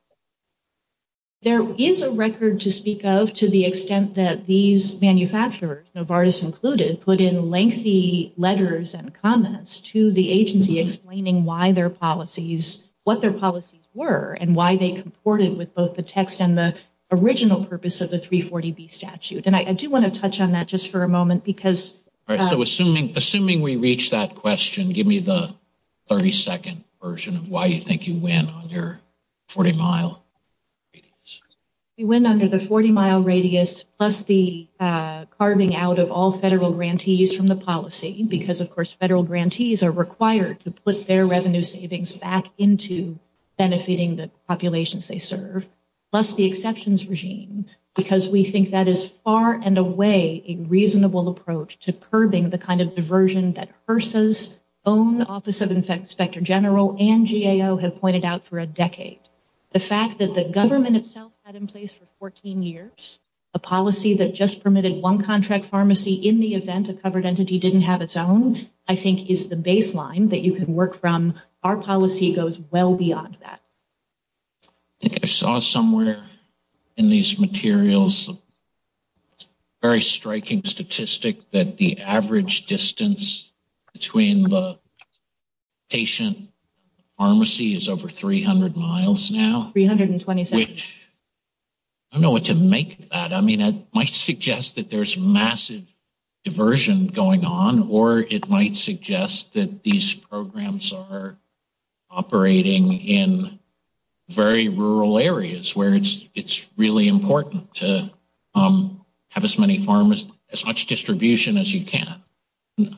There is a record to speak of to the extent that these manufacturers, Novartis included, put in lengthy letters and comments to the agency explaining what their policies were and why they comported with both the text and the original purpose of the 340B statute. I do want to touch on that just for a moment. Assuming we reach that question, give me the 30-second version of why you think you win under 40-mile radius. We win under the 40-mile radius plus the carving out of all federal grantees from the policy, because of course federal grantees are required to put their revenue savings back into benefiting the populations they serve, plus the exceptions regime, because we think that is far and away a reasonable approach to curbing the kind of diversion that HRSA's own Office of Infectious Specter General and GAO have pointed out for a decade. The fact that the government itself had in place for 14 years a policy that just permitted one contract pharmacy in the event a covered entity didn't have its own, I think is the baseline that you can work from. Our policy goes well beyond that. I think I saw somewhere in these materials a very striking statistic that the average distance between the patient and the pharmacy is over 300 miles now. 327. Which, I don't know what to make of that. I mean, it might suggest that there's massive diversion going on, or it might suggest that these programs are operating in very rural areas, where it's really important to have as much distribution as you can. I'm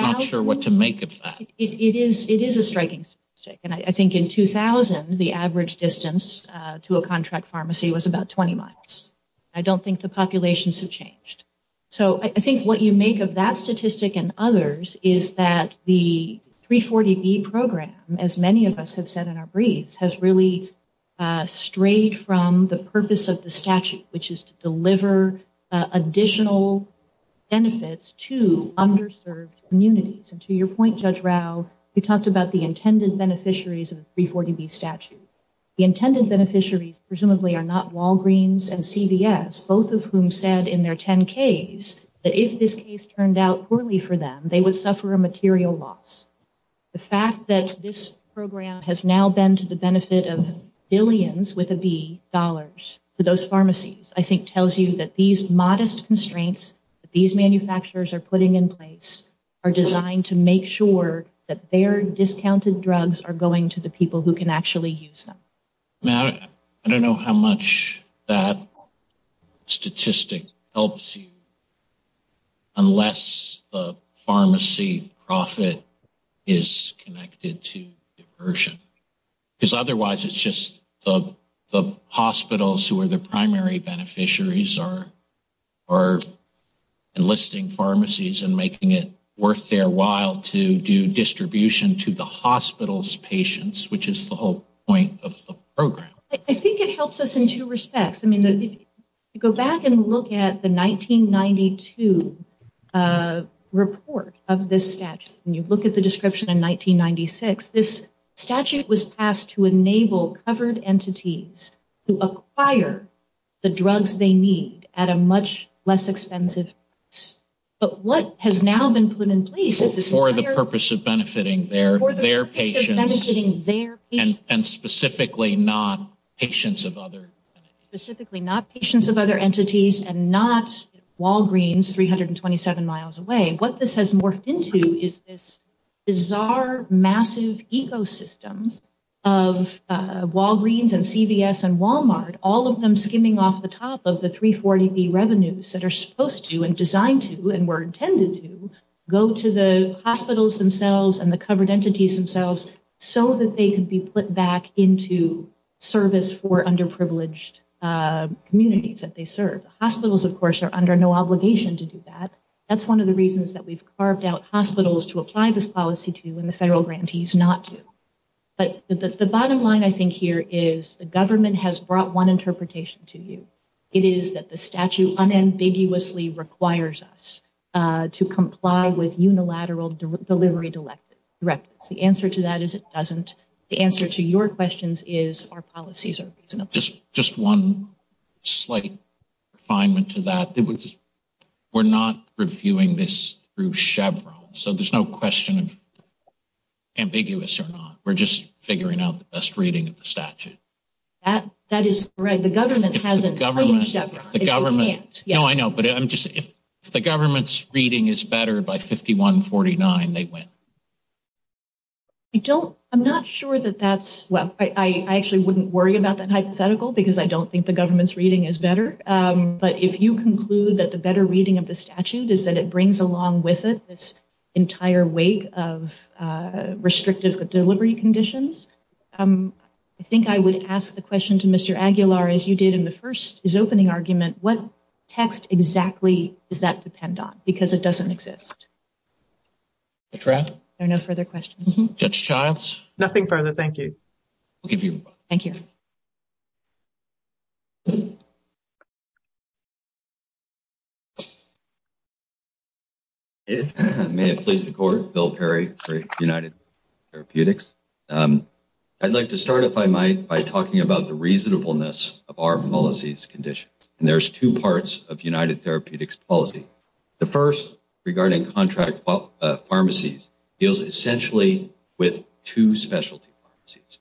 not sure what to make of that. It is a striking statistic. I think in 2000 the average distance to a contract pharmacy was about 20 miles. I don't think the populations have changed. I think what you make of that statistic and others is that the 340B program, as many of us have said in our briefs, has really strayed from the purpose of the statute, which is to deliver additional benefits to underserved communities. To your point, Judge Rao, you talked about the intended beneficiaries of the 340B statute. The intended beneficiaries presumably are not Walgreens and CVS, both of whom said in their 10-Ks that if this case turned out poorly for them, they would suffer a material loss. The fact that this program has now been to the benefit of billions, with a B, dollars to those pharmacies I think tells you that these modest constraints that these manufacturers are putting in place are designed to make sure that their discounted drugs are going to the people who can actually use them. I don't know how much that statistic helps you, unless the pharmacy profit is connected to diversion. Because otherwise it's just the hospitals who are the primary beneficiaries are enlisting pharmacies and making it worth their while to do distribution to the hospital's patients, which is the whole point of the program. I think it helps us in two respects. If you go back and look at the 1992 report of this statute, and you look at the description in 1996, this statute was passed to enable covered entities to acquire the drugs they need at a much less expensive price. But what has now been put in place is this entire- For the purpose of benefiting their patients, and specifically not patients of other entities. Specifically not patients of other entities and not Walgreens 327 miles away. What this has morphed into is this bizarre, massive ecosystem of Walgreens and CVS and Walmart, all of them skimming off the top of the 340B revenues that are supposed to and designed to and were intended to, go to the hospitals themselves and the covered entities themselves so that they can be put back into service for underprivileged communities that they serve. Hospitals, of course, are under no obligation to do that. That's one of the reasons that we've carved out hospitals to apply this policy to and the federal grantees not to. But the bottom line I think here is the government has brought one interpretation to you. It is that the statute unambiguously requires us to comply with unilateral delivery directives. The answer to that is it doesn't. The answer to your questions is our policies are reasonable. Just one slight refinement to that. We're not reviewing this through Chevron, so there's no question of ambiguous or not. We're just figuring out the best reading of the statute. That is correct. The government hasn't. No, I know. But if the government's reading is better by 5149, they win. I'm not sure that that's, well, I actually wouldn't worry about that hypothetical because I don't think the government's reading is better. But if you conclude that the better reading of the statute is that it brings along with it this entire weight of restrictive delivery conditions, I think I would ask the question to Mr. Aguilar, as you did in the first, his opening argument, what text exactly does that depend on? Because it doesn't exist. Judge Rapp? There are no further questions. Judge Childs? Nothing further. Thank you. Thank you. May it please the court, Bill Perry for United Therapeutics. I'd like to start, if I might, by talking about the reasonableness of our policies condition. And there's two parts of United Therapeutics policy. The first regarding contract pharmacies deals essentially with two specialty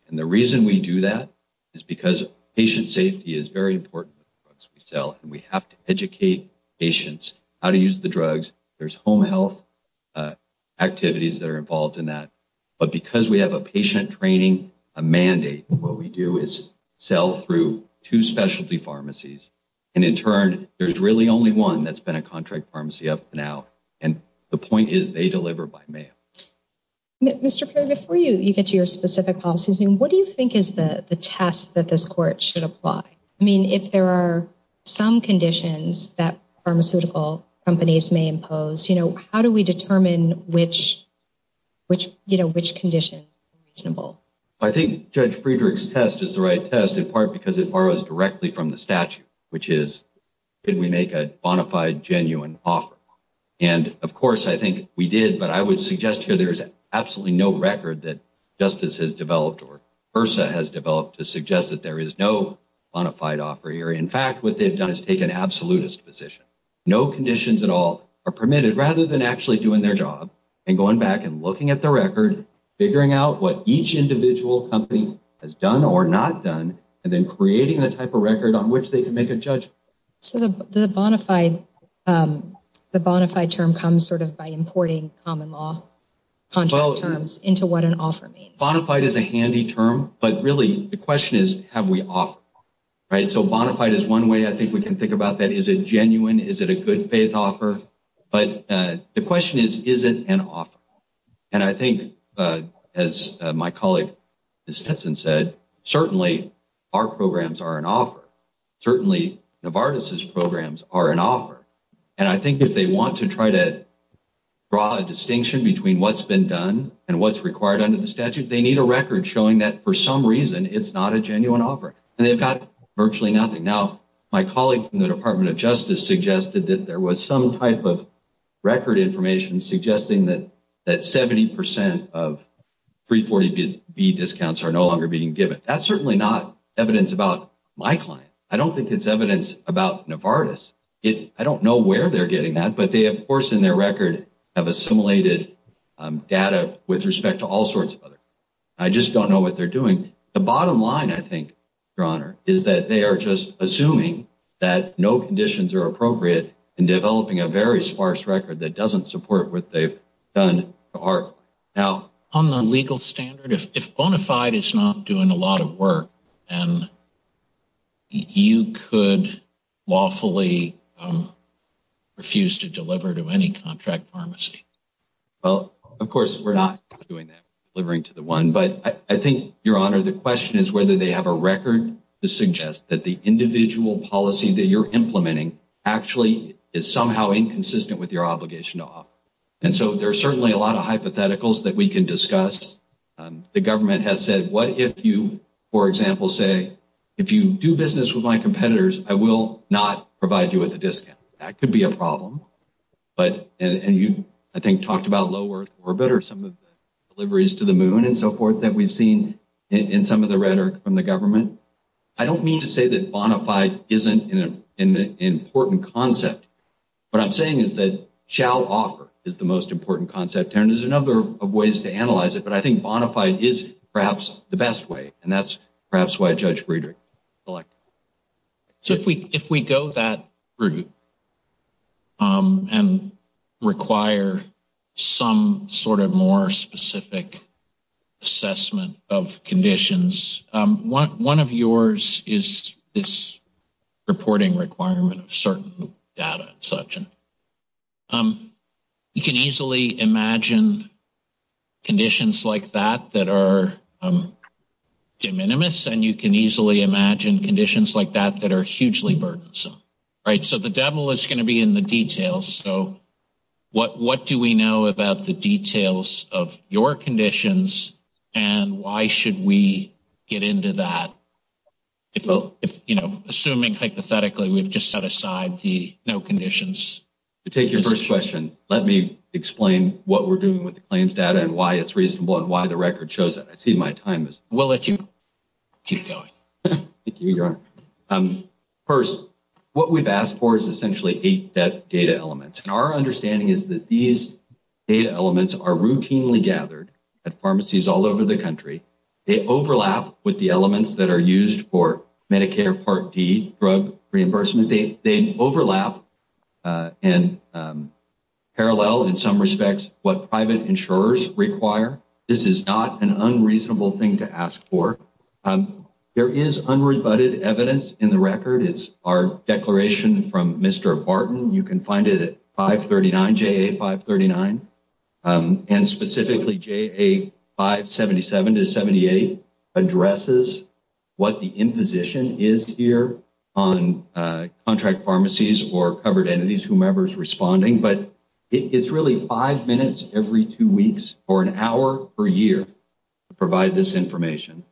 And the reason we do that is because patient safety is very important. We sell and we have to educate patients how to use the drugs. There's home health activities that are involved in that. But because we have a patient training, a mandate, what we do is sell through two specialty pharmacies. And in turn, there's really only one that's been a contract pharmacy up and out. And the point is they deliver by mail. Mr. Perry, before you get to your specific policies, what do you think is the test that this court should apply? I mean, if there are some conditions that pharmaceutical companies may impose, how do we determine which conditions are reasonable? I think Judge Friedrich's test is the right test, in part because it borrows directly from the statute, which is did we make a bona fide genuine offer? And, of course, I think we did. But I would suggest here there is absolutely no record that Justice has developed or HRSA has developed to suggest that there is no bona fide offer here. In fact, what they've done is take an absolutist position. No conditions at all are permitted rather than actually doing their job and going back and looking at the record, figuring out what each individual company has done or not done, and then creating the type of record on which they can make a judgment. So the bona fide term comes sort of by importing common law contract terms into what an offer means. Well, bona fide is a handy term, but really the question is have we offered? Right? So bona fide is one way I think we can think about that. Is it genuine? Is it a good-faith offer? But the question is, is it an offer? And I think, as my colleague Ms. Stetson said, certainly our programs are an offer. Certainly Novartis's programs are an offer. And I think if they want to try to draw a distinction between what's been done and what's required under the statute, they need a record showing that for some reason it's not a genuine offer. And they've got virtually nothing. Now, my colleague from the Department of Justice suggested that there was some type of record information suggesting that 70% of 340B discounts are no longer being given. That's certainly not evidence about my client. I don't think it's evidence about Novartis. I don't know where they're getting that, but they, of course, in their record, have assimilated data with respect to all sorts of other things. I just don't know what they're doing. The bottom line, I think, Your Honor, is that they are just assuming that no conditions are appropriate in developing a very sparse record that doesn't support what they've done to ARC. On the legal standard, if Bonafide is not doing a lot of work, then you could lawfully refuse to deliver to any contract pharmacy. Well, of course, we're not doing that, delivering to the one. But I think, Your Honor, the question is whether they have a record to suggest that the individual policy that you're implementing actually is somehow inconsistent with your obligation to offer. And so there are certainly a lot of hypotheticals that we can discuss. The government has said, what if you, for example, say, if you do business with my competitors, I will not provide you with a discount. That could be a problem. And you, I think, talked about lower orbit or some of the deliveries to the moon and so forth that we've seen in some of the rhetoric from the government. I don't mean to say that Bonafide isn't an important concept. What I'm saying is that shall offer is the most important concept. And there's a number of ways to analyze it, but I think Bonafide is perhaps the best way, and that's perhaps why Judge Friedrich selected it. So if we go that route and require some sort of more specific assessment of conditions, one of yours is this reporting requirement of certain data and such. You can easily imagine conditions like that that are de minimis, and you can easily imagine conditions like that that are hugely burdensome. So the devil is going to be in the details. So what do we know about the details of your conditions, and why should we get into that? Assuming hypothetically we've just set aside the no conditions. To take your first question, let me explain what we're doing with the claims data and why it's reasonable and why the record shows that. I see my time is up. We'll let you keep going. Thank you, Your Honor. First, what we've asked for is essentially eight data elements, and our understanding is that these data elements are routinely gathered at pharmacies all over the country. They overlap with the elements that are used for Medicare Part D drug reimbursement. They overlap and parallel, in some respects, what private insurers require. This is not an unreasonable thing to ask for. There is unrebutted evidence in the record. It's our declaration from Mr. Barton. You can find it at 539, JA 539, and specifically JA 577-78 addresses what the imposition is here on contract pharmacies or covered entities, whomever is responding. But it's really five minutes every two weeks or an hour per year to provide this information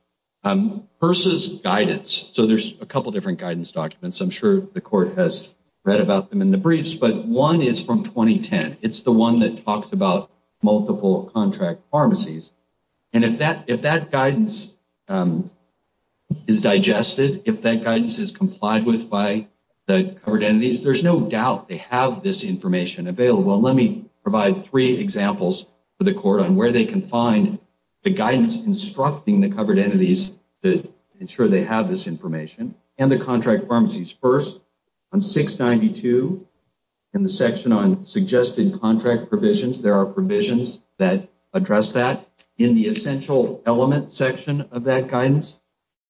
versus guidance. So there's a couple different guidance documents. I'm sure the court has read about them in the briefs, but one is from 2010. It's the one that talks about multiple contract pharmacies. And if that guidance is digested, if that guidance is complied with by the covered entities, there's no doubt they have this information. Well, let me provide three examples for the court on where they can find the guidance instructing the covered entities to ensure they have this information and the contract pharmacies. First, on 692 in the section on suggested contract provisions, there are provisions that address that. In the essential element section of that guidance,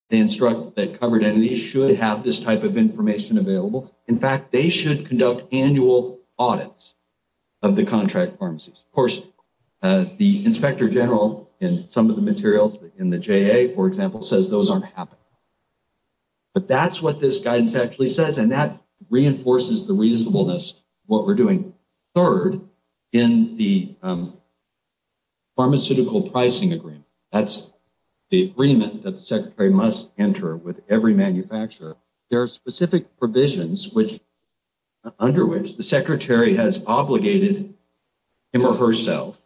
they instruct that covered entities should have this type of information available. In fact, they should conduct annual audits of the contract pharmacies. Of course, the inspector general in some of the materials in the JA, for example, says those aren't happening. But that's what this guidance actually says, and that reinforces the reasonableness of what we're doing. Third, in the pharmaceutical pricing agreement, that's the agreement that the secretary must enter with every manufacturer. There are specific provisions under which the secretary has obligated him or herself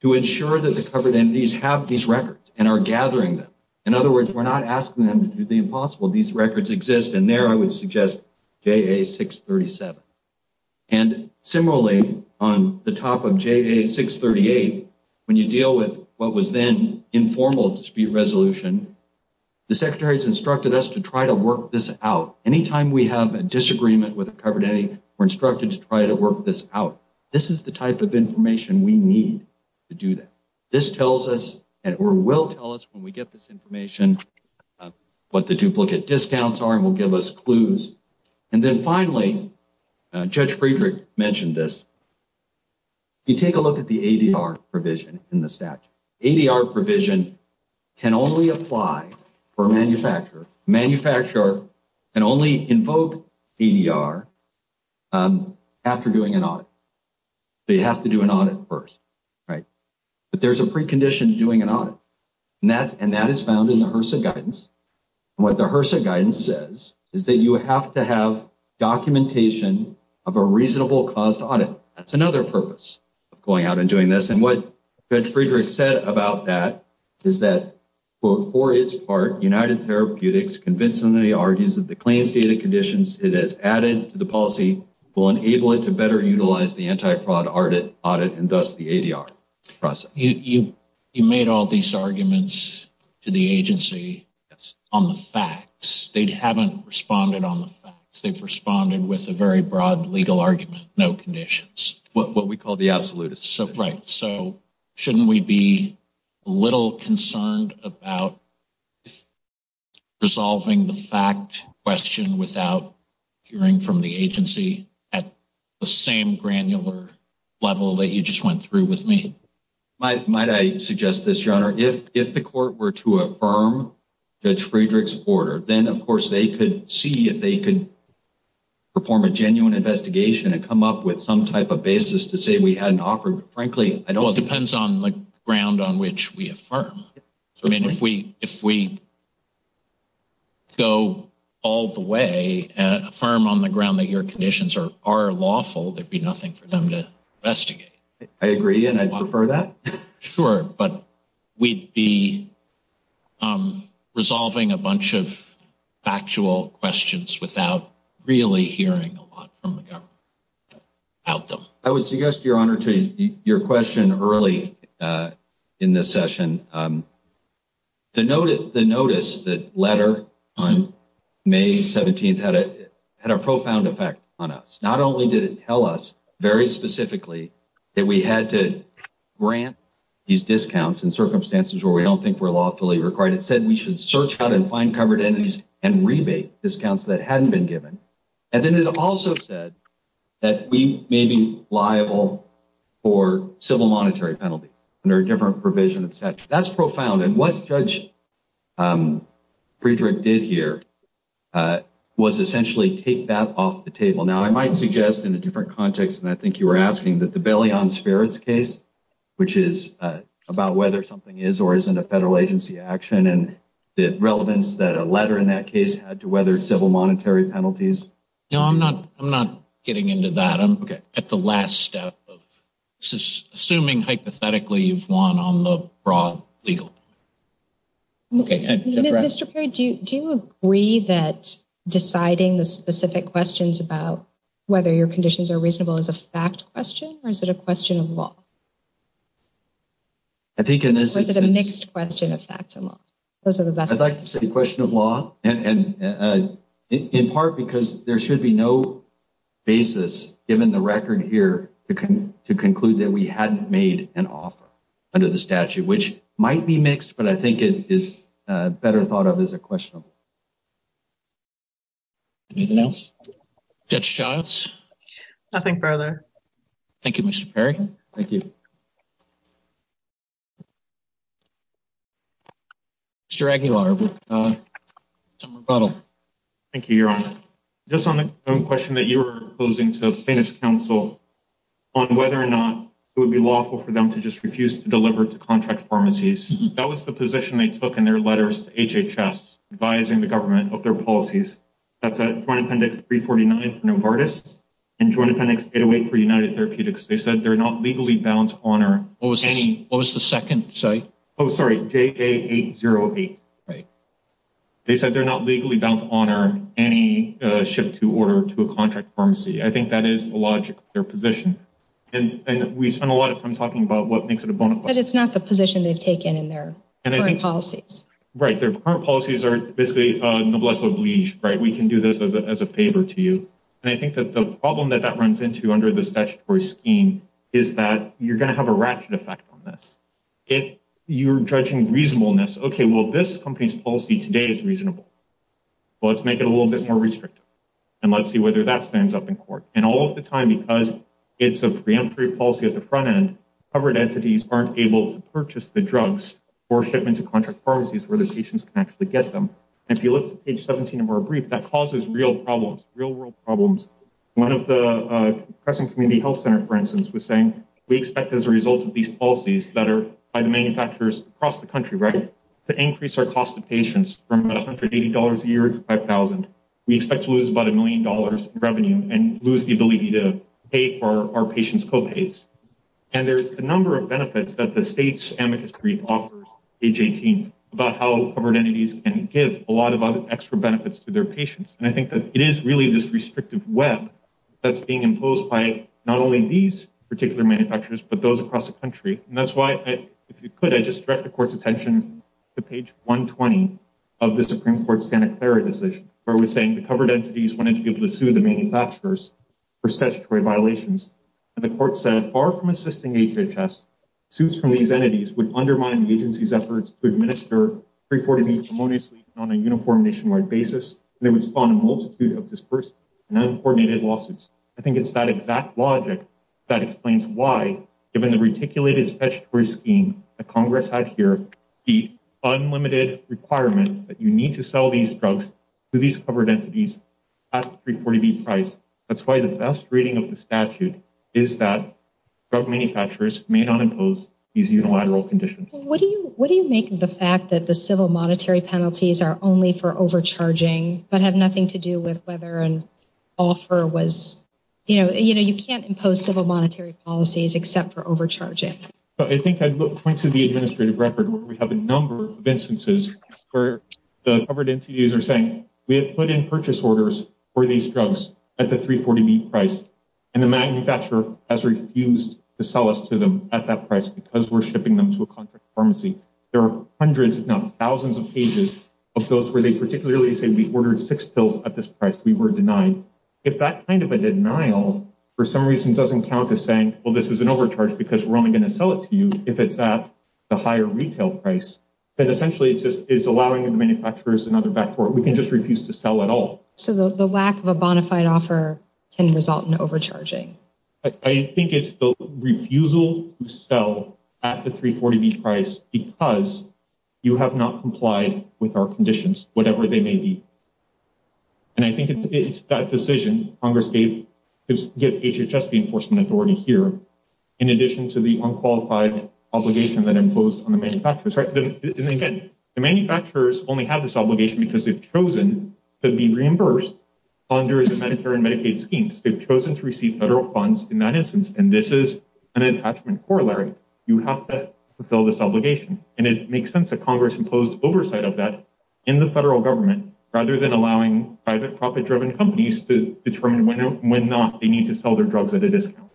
to ensure that the covered entities have these records and are gathering them. In other words, we're not asking them to do the impossible. These records exist, and there I would suggest JA 637. And similarly, on the top of JA 638, when you deal with what was then informal dispute resolution, the secretary has instructed us to try to work this out. Anytime we have a disagreement with a covered entity, we're instructed to try to work this out. This is the type of information we need to do that. This tells us, or will tell us when we get this information, what the duplicate discounts are and will give us clues. And then finally, Judge Friedrich mentioned this. You take a look at the ADR provision in the statute. ADR provision can only apply for a manufacturer. A manufacturer can only invoke ADR after doing an audit. So you have to do an audit first, right? But there's a precondition to doing an audit, and that is found in the HRSA guidance. And what the HRSA guidance says is that you have to have documentation of a reasonable cost audit. That's another purpose of going out and doing this. And what Judge Friedrich said about that is that, quote, for its part, United Therapeutics convincingly argues that the claims data conditions it has added to the policy will enable it to better utilize the anti-fraud audit and thus the ADR process. You made all these arguments to the agency on the facts. They haven't responded on the facts. They've responded with a very broad legal argument, no conditions. What we call the absolutist. Right. So shouldn't we be a little concerned about resolving the fact question without hearing from the agency at the same granular level that you just went through with me? Might I suggest this, Your Honor? If the court were to affirm Judge Friedrich's order, then, of course, they could see if they could perform a genuine investigation and come up with some type of basis to say we had an offer. Frankly, I don't think. Well, it depends on the ground on which we affirm. I mean, if we go all the way and affirm on the ground that your conditions are lawful, there would be nothing for them to investigate. I agree, and I'd prefer that. Sure. But we'd be resolving a bunch of factual questions without really hearing a lot from the government about them. I would suggest, Your Honor, to your question early in this session, the notice that letter on May 17th had a profound effect on us. Not only did it tell us very specifically that we had to grant these discounts in circumstances where we don't think were lawfully required. It said we should search out and find covered entities and rebate discounts that hadn't been given. And then it also said that we may be liable for civil monetary penalties under a different provision of statute. That's profound. And what Judge Friedrich did here was essentially take that off the table. Now, I might suggest, in a different context than I think you were asking, that the Bailion-Sperritt case, which is about whether something is or isn't a federal agency action, and the relevance that a letter in that case had to whether civil monetary penalties. No, I'm not getting into that. I'm at the last step of assuming hypothetically you've won on the broad legal. Mr. Perry, do you agree that deciding the specific questions about whether your conditions are reasonable is a fact question or is it a question of law? I think it is. Or is it a mixed question of fact and law? I'd like to say a question of law, in part because there should be no basis, given the record here, to conclude that we hadn't made an offer under the statute, which might be mixed, but I think it is better thought of as a question. Anything else? Judge Giles? Nothing further. Thank you, Mr. Perry. Thank you. Mr. Aguilar, some rebuttal. Thank you, Your Honor. Just on the question that you were posing to plaintiff's counsel on whether or not it would be lawful for them to just refuse to deliver to contract pharmacies, that was the position they took in their letters to HHS advising the government of their policies. That's at Joint Appendix 349 for Novartis and Joint Appendix 808 for United Therapeutics. They said they're not legally bound to honor any — What was the second? Oh, sorry, JA808. Right. They said they're not legally bound to honor any shift to order to a contract pharmacy. I think that is the logic of their position. And we've spent a lot of time talking about what makes it a bona fide. But it's not the position they've taken in their current policies. Right. Their current policies are basically noblesse oblige, right? We can do this as a favor to you. And I think that the problem that that runs into under the statutory scheme is that you're going to have a ratchet effect on this. If you're judging reasonableness, okay, well, this company's policy today is reasonable. Well, let's make it a little bit more restrictive. And let's see whether that stands up in court. And all of the time, because it's a preemptory policy at the front end, covered entities aren't able to purchase the drugs for shipment to contract pharmacies where the patients can actually get them. And if you look at page 17 of our brief, that causes real problems, real-world problems. One of the Crescent Community Health Center, for instance, was saying we expect as a result of these policies that are by the manufacturers across the country, right, to increase our cost to patients from about $180 a year to $5,000. We expect to lose about a million dollars in revenue and lose the ability to pay for our patients' co-pays. And there's a number of benefits that the state's amicus brief offers, page 18, about how covered entities can give a lot of extra benefits to their patients. And I think that it is really this restrictive web that's being imposed by not only these particular manufacturers, but those across the country. And that's why, if you could, I'd just direct the court's attention to page 120 of the Supreme Court's Santa Clara decision, where it was saying the covered entities wanted to be able to sue the manufacturers for statutory violations. And the court said, far from assisting HHS, I think it's that exact logic that explains why, given the reticulated statutory scheme that Congress had here, the unlimited requirement that you need to sell these drugs to these covered entities at a 340B price. That's why the best reading of the statute is that drug manufacturers may not impose these unilateral conditions. What do you make of the fact that the civil monetary penalties are only for overcharging, but have nothing to do with whether an offer was, you know, you can't impose civil monetary policies except for overcharging? I think I'd point to the administrative record where we have a number of instances where the covered entities are saying, we have put in purchase orders for these drugs at the 340B price, and the manufacturer has refused to sell us to them at that price because we're shipping them to a contract pharmacy. There are hundreds, if not thousands of pages of those where they particularly say we ordered six pills at this price. We were denied. If that kind of a denial for some reason doesn't count as saying, well, this is an overcharge because we're only going to sell it to you if it's at the higher retail price, then essentially it's allowing the manufacturers another backdoor. We can just refuse to sell at all. So the lack of a bona fide offer can result in overcharging. I think it's the refusal to sell at the 340B price because you have not complied with our conditions, whatever they may be. And I think it's that decision Congress gave HHS the enforcement authority here, in addition to the unqualified obligation that imposed on the manufacturers. And again, the manufacturers only have this obligation because they've chosen to be reimbursed under the Medicare and Medicaid schemes. They've chosen to receive federal funds in that instance. And this is an attachment corollary. You have to fulfill this obligation. And it makes sense that Congress imposed oversight of that in the federal government, rather than allowing private profit driven companies to determine when or when not they need to sell their drugs at a discount.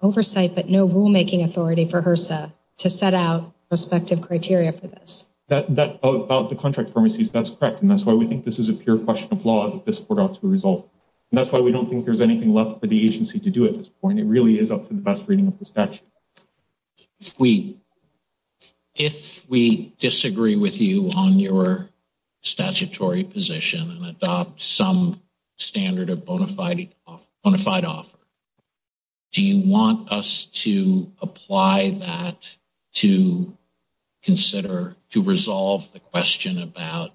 Oversight, but no rulemaking authority for HRSA to set out respective criteria for this. About the contract pharmacies, that's correct. And that's why we think this is a pure question of law that this brought out to a result. And that's why we don't think there's anything left for the agency to do at this point. It really is up to the best reading of the statute. If we disagree with you on your statutory position and adopt some standard of bona fide offer, do you want us to apply that to consider to resolve the question about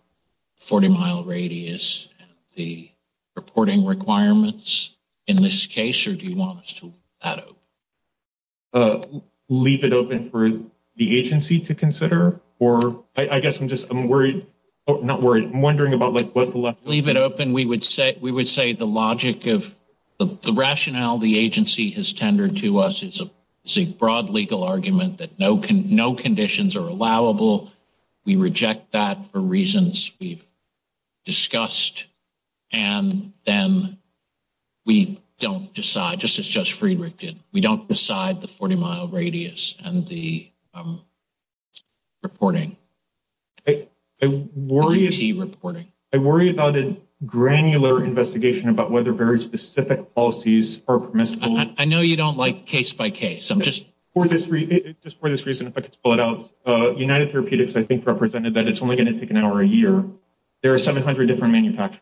40 mile radius, the reporting requirements in this case, or do you want us to leave it open for the agency to consider? Or I guess I'm just I'm worried. I'm not worried. I'm wondering about like what the left leave it open. We would say we would say the logic of the rationale the agency has tendered to us is a broad legal argument that no, no conditions are allowable. We reject that for reasons we've discussed. And then we don't decide just as just Friedrich did. We don't decide the 40 mile radius and the reporting. I worry is he reporting? I worry about a granular investigation about whether very specific policies are permissible. I know you don't like case by case. I'm just for this. Just for this reason, if I could pull it out. United Therapeutics, I think, represented that it's only going to take an hour a year. There are 700 different manufacturers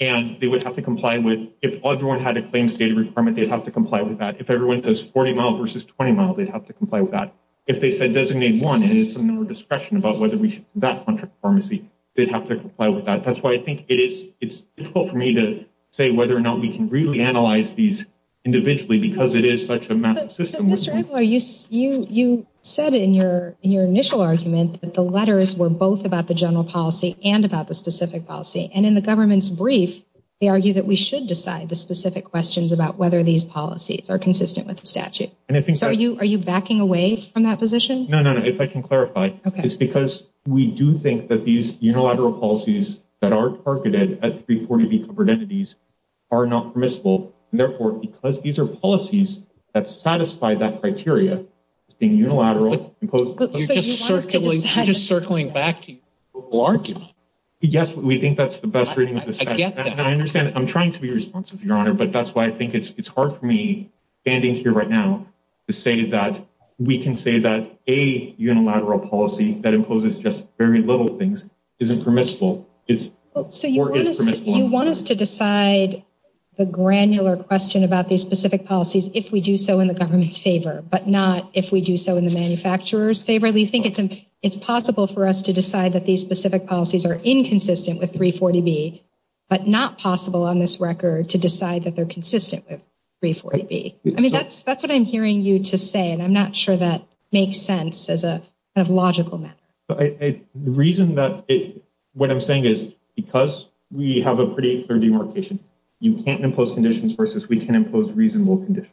and they would have to comply with it. If everyone had a claims data requirement, they'd have to comply with that. If everyone does 40 mile versus 20 mile, they'd have to comply with that. If they said doesn't mean one is discretion about whether that pharmacy did have to comply with that. That's why I think it is it's for me to say whether or not we can really analyze these individually because it is such a massive system. Are you you you said in your in your initial argument that the letters were both about the general policy and about the specific policy. And in the government's brief, they argue that we should decide the specific questions about whether these policies are consistent with the statute. And I think are you are you backing away from that position? No, no, no. If I can clarify, it's because we do think that these unilateral policies that are targeted at 340 covered entities are not permissible. Therefore, because these are policies that satisfy that criteria, being unilateral. Just circling, just circling back to argue. Yes, we think that's the best reading. I get that. I understand. I'm trying to be responsive, Your Honor, but that's why I think it's hard for me standing here right now to say that we can say that a unilateral policy that imposes just very little things isn't permissible. It's so you want us to decide the granular question about these specific policies if we do so in the government's favor, but not if we do so in the manufacturer's favor. It's possible for us to decide that these specific policies are inconsistent with 340B, but not possible on this record to decide that they're consistent with 340B. I mean, that's that's what I'm hearing you to say, and I'm not sure that makes sense as a logical matter. The reason that what I'm saying is because we have a pretty clear demarcation, you can't impose conditions versus we can impose reasonable conditions.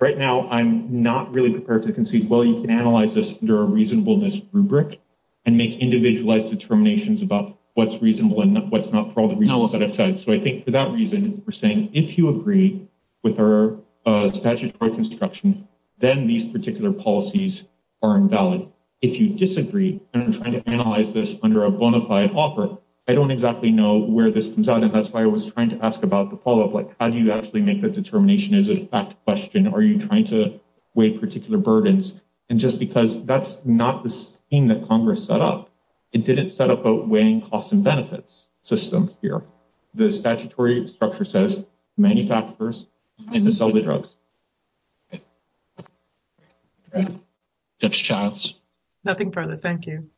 Right now, I'm not really prepared to concede. Well, you can analyze this under a reasonableness rubric and make individualized determinations about what's reasonable and what's not for all the reasons that I've said. So I think for that reason, we're saying if you agree with our statutory construction, then these particular policies are invalid. If you disagree, and I'm trying to analyze this under a bona fide offer, I don't exactly know where this comes out, and that's why I was trying to ask about the follow up. Like, how do you actually make the determination? Is it a fact question? Are you trying to weigh particular burdens? And just because that's not the scheme that Congress set up, it didn't set up a weighing costs and benefits system here. The statutory structure says manufacturers and to sell the drugs. That's Charles. Nothing further. Thank you.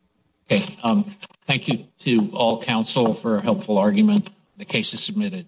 Thank you to all counsel for a helpful argument. The case is submitted.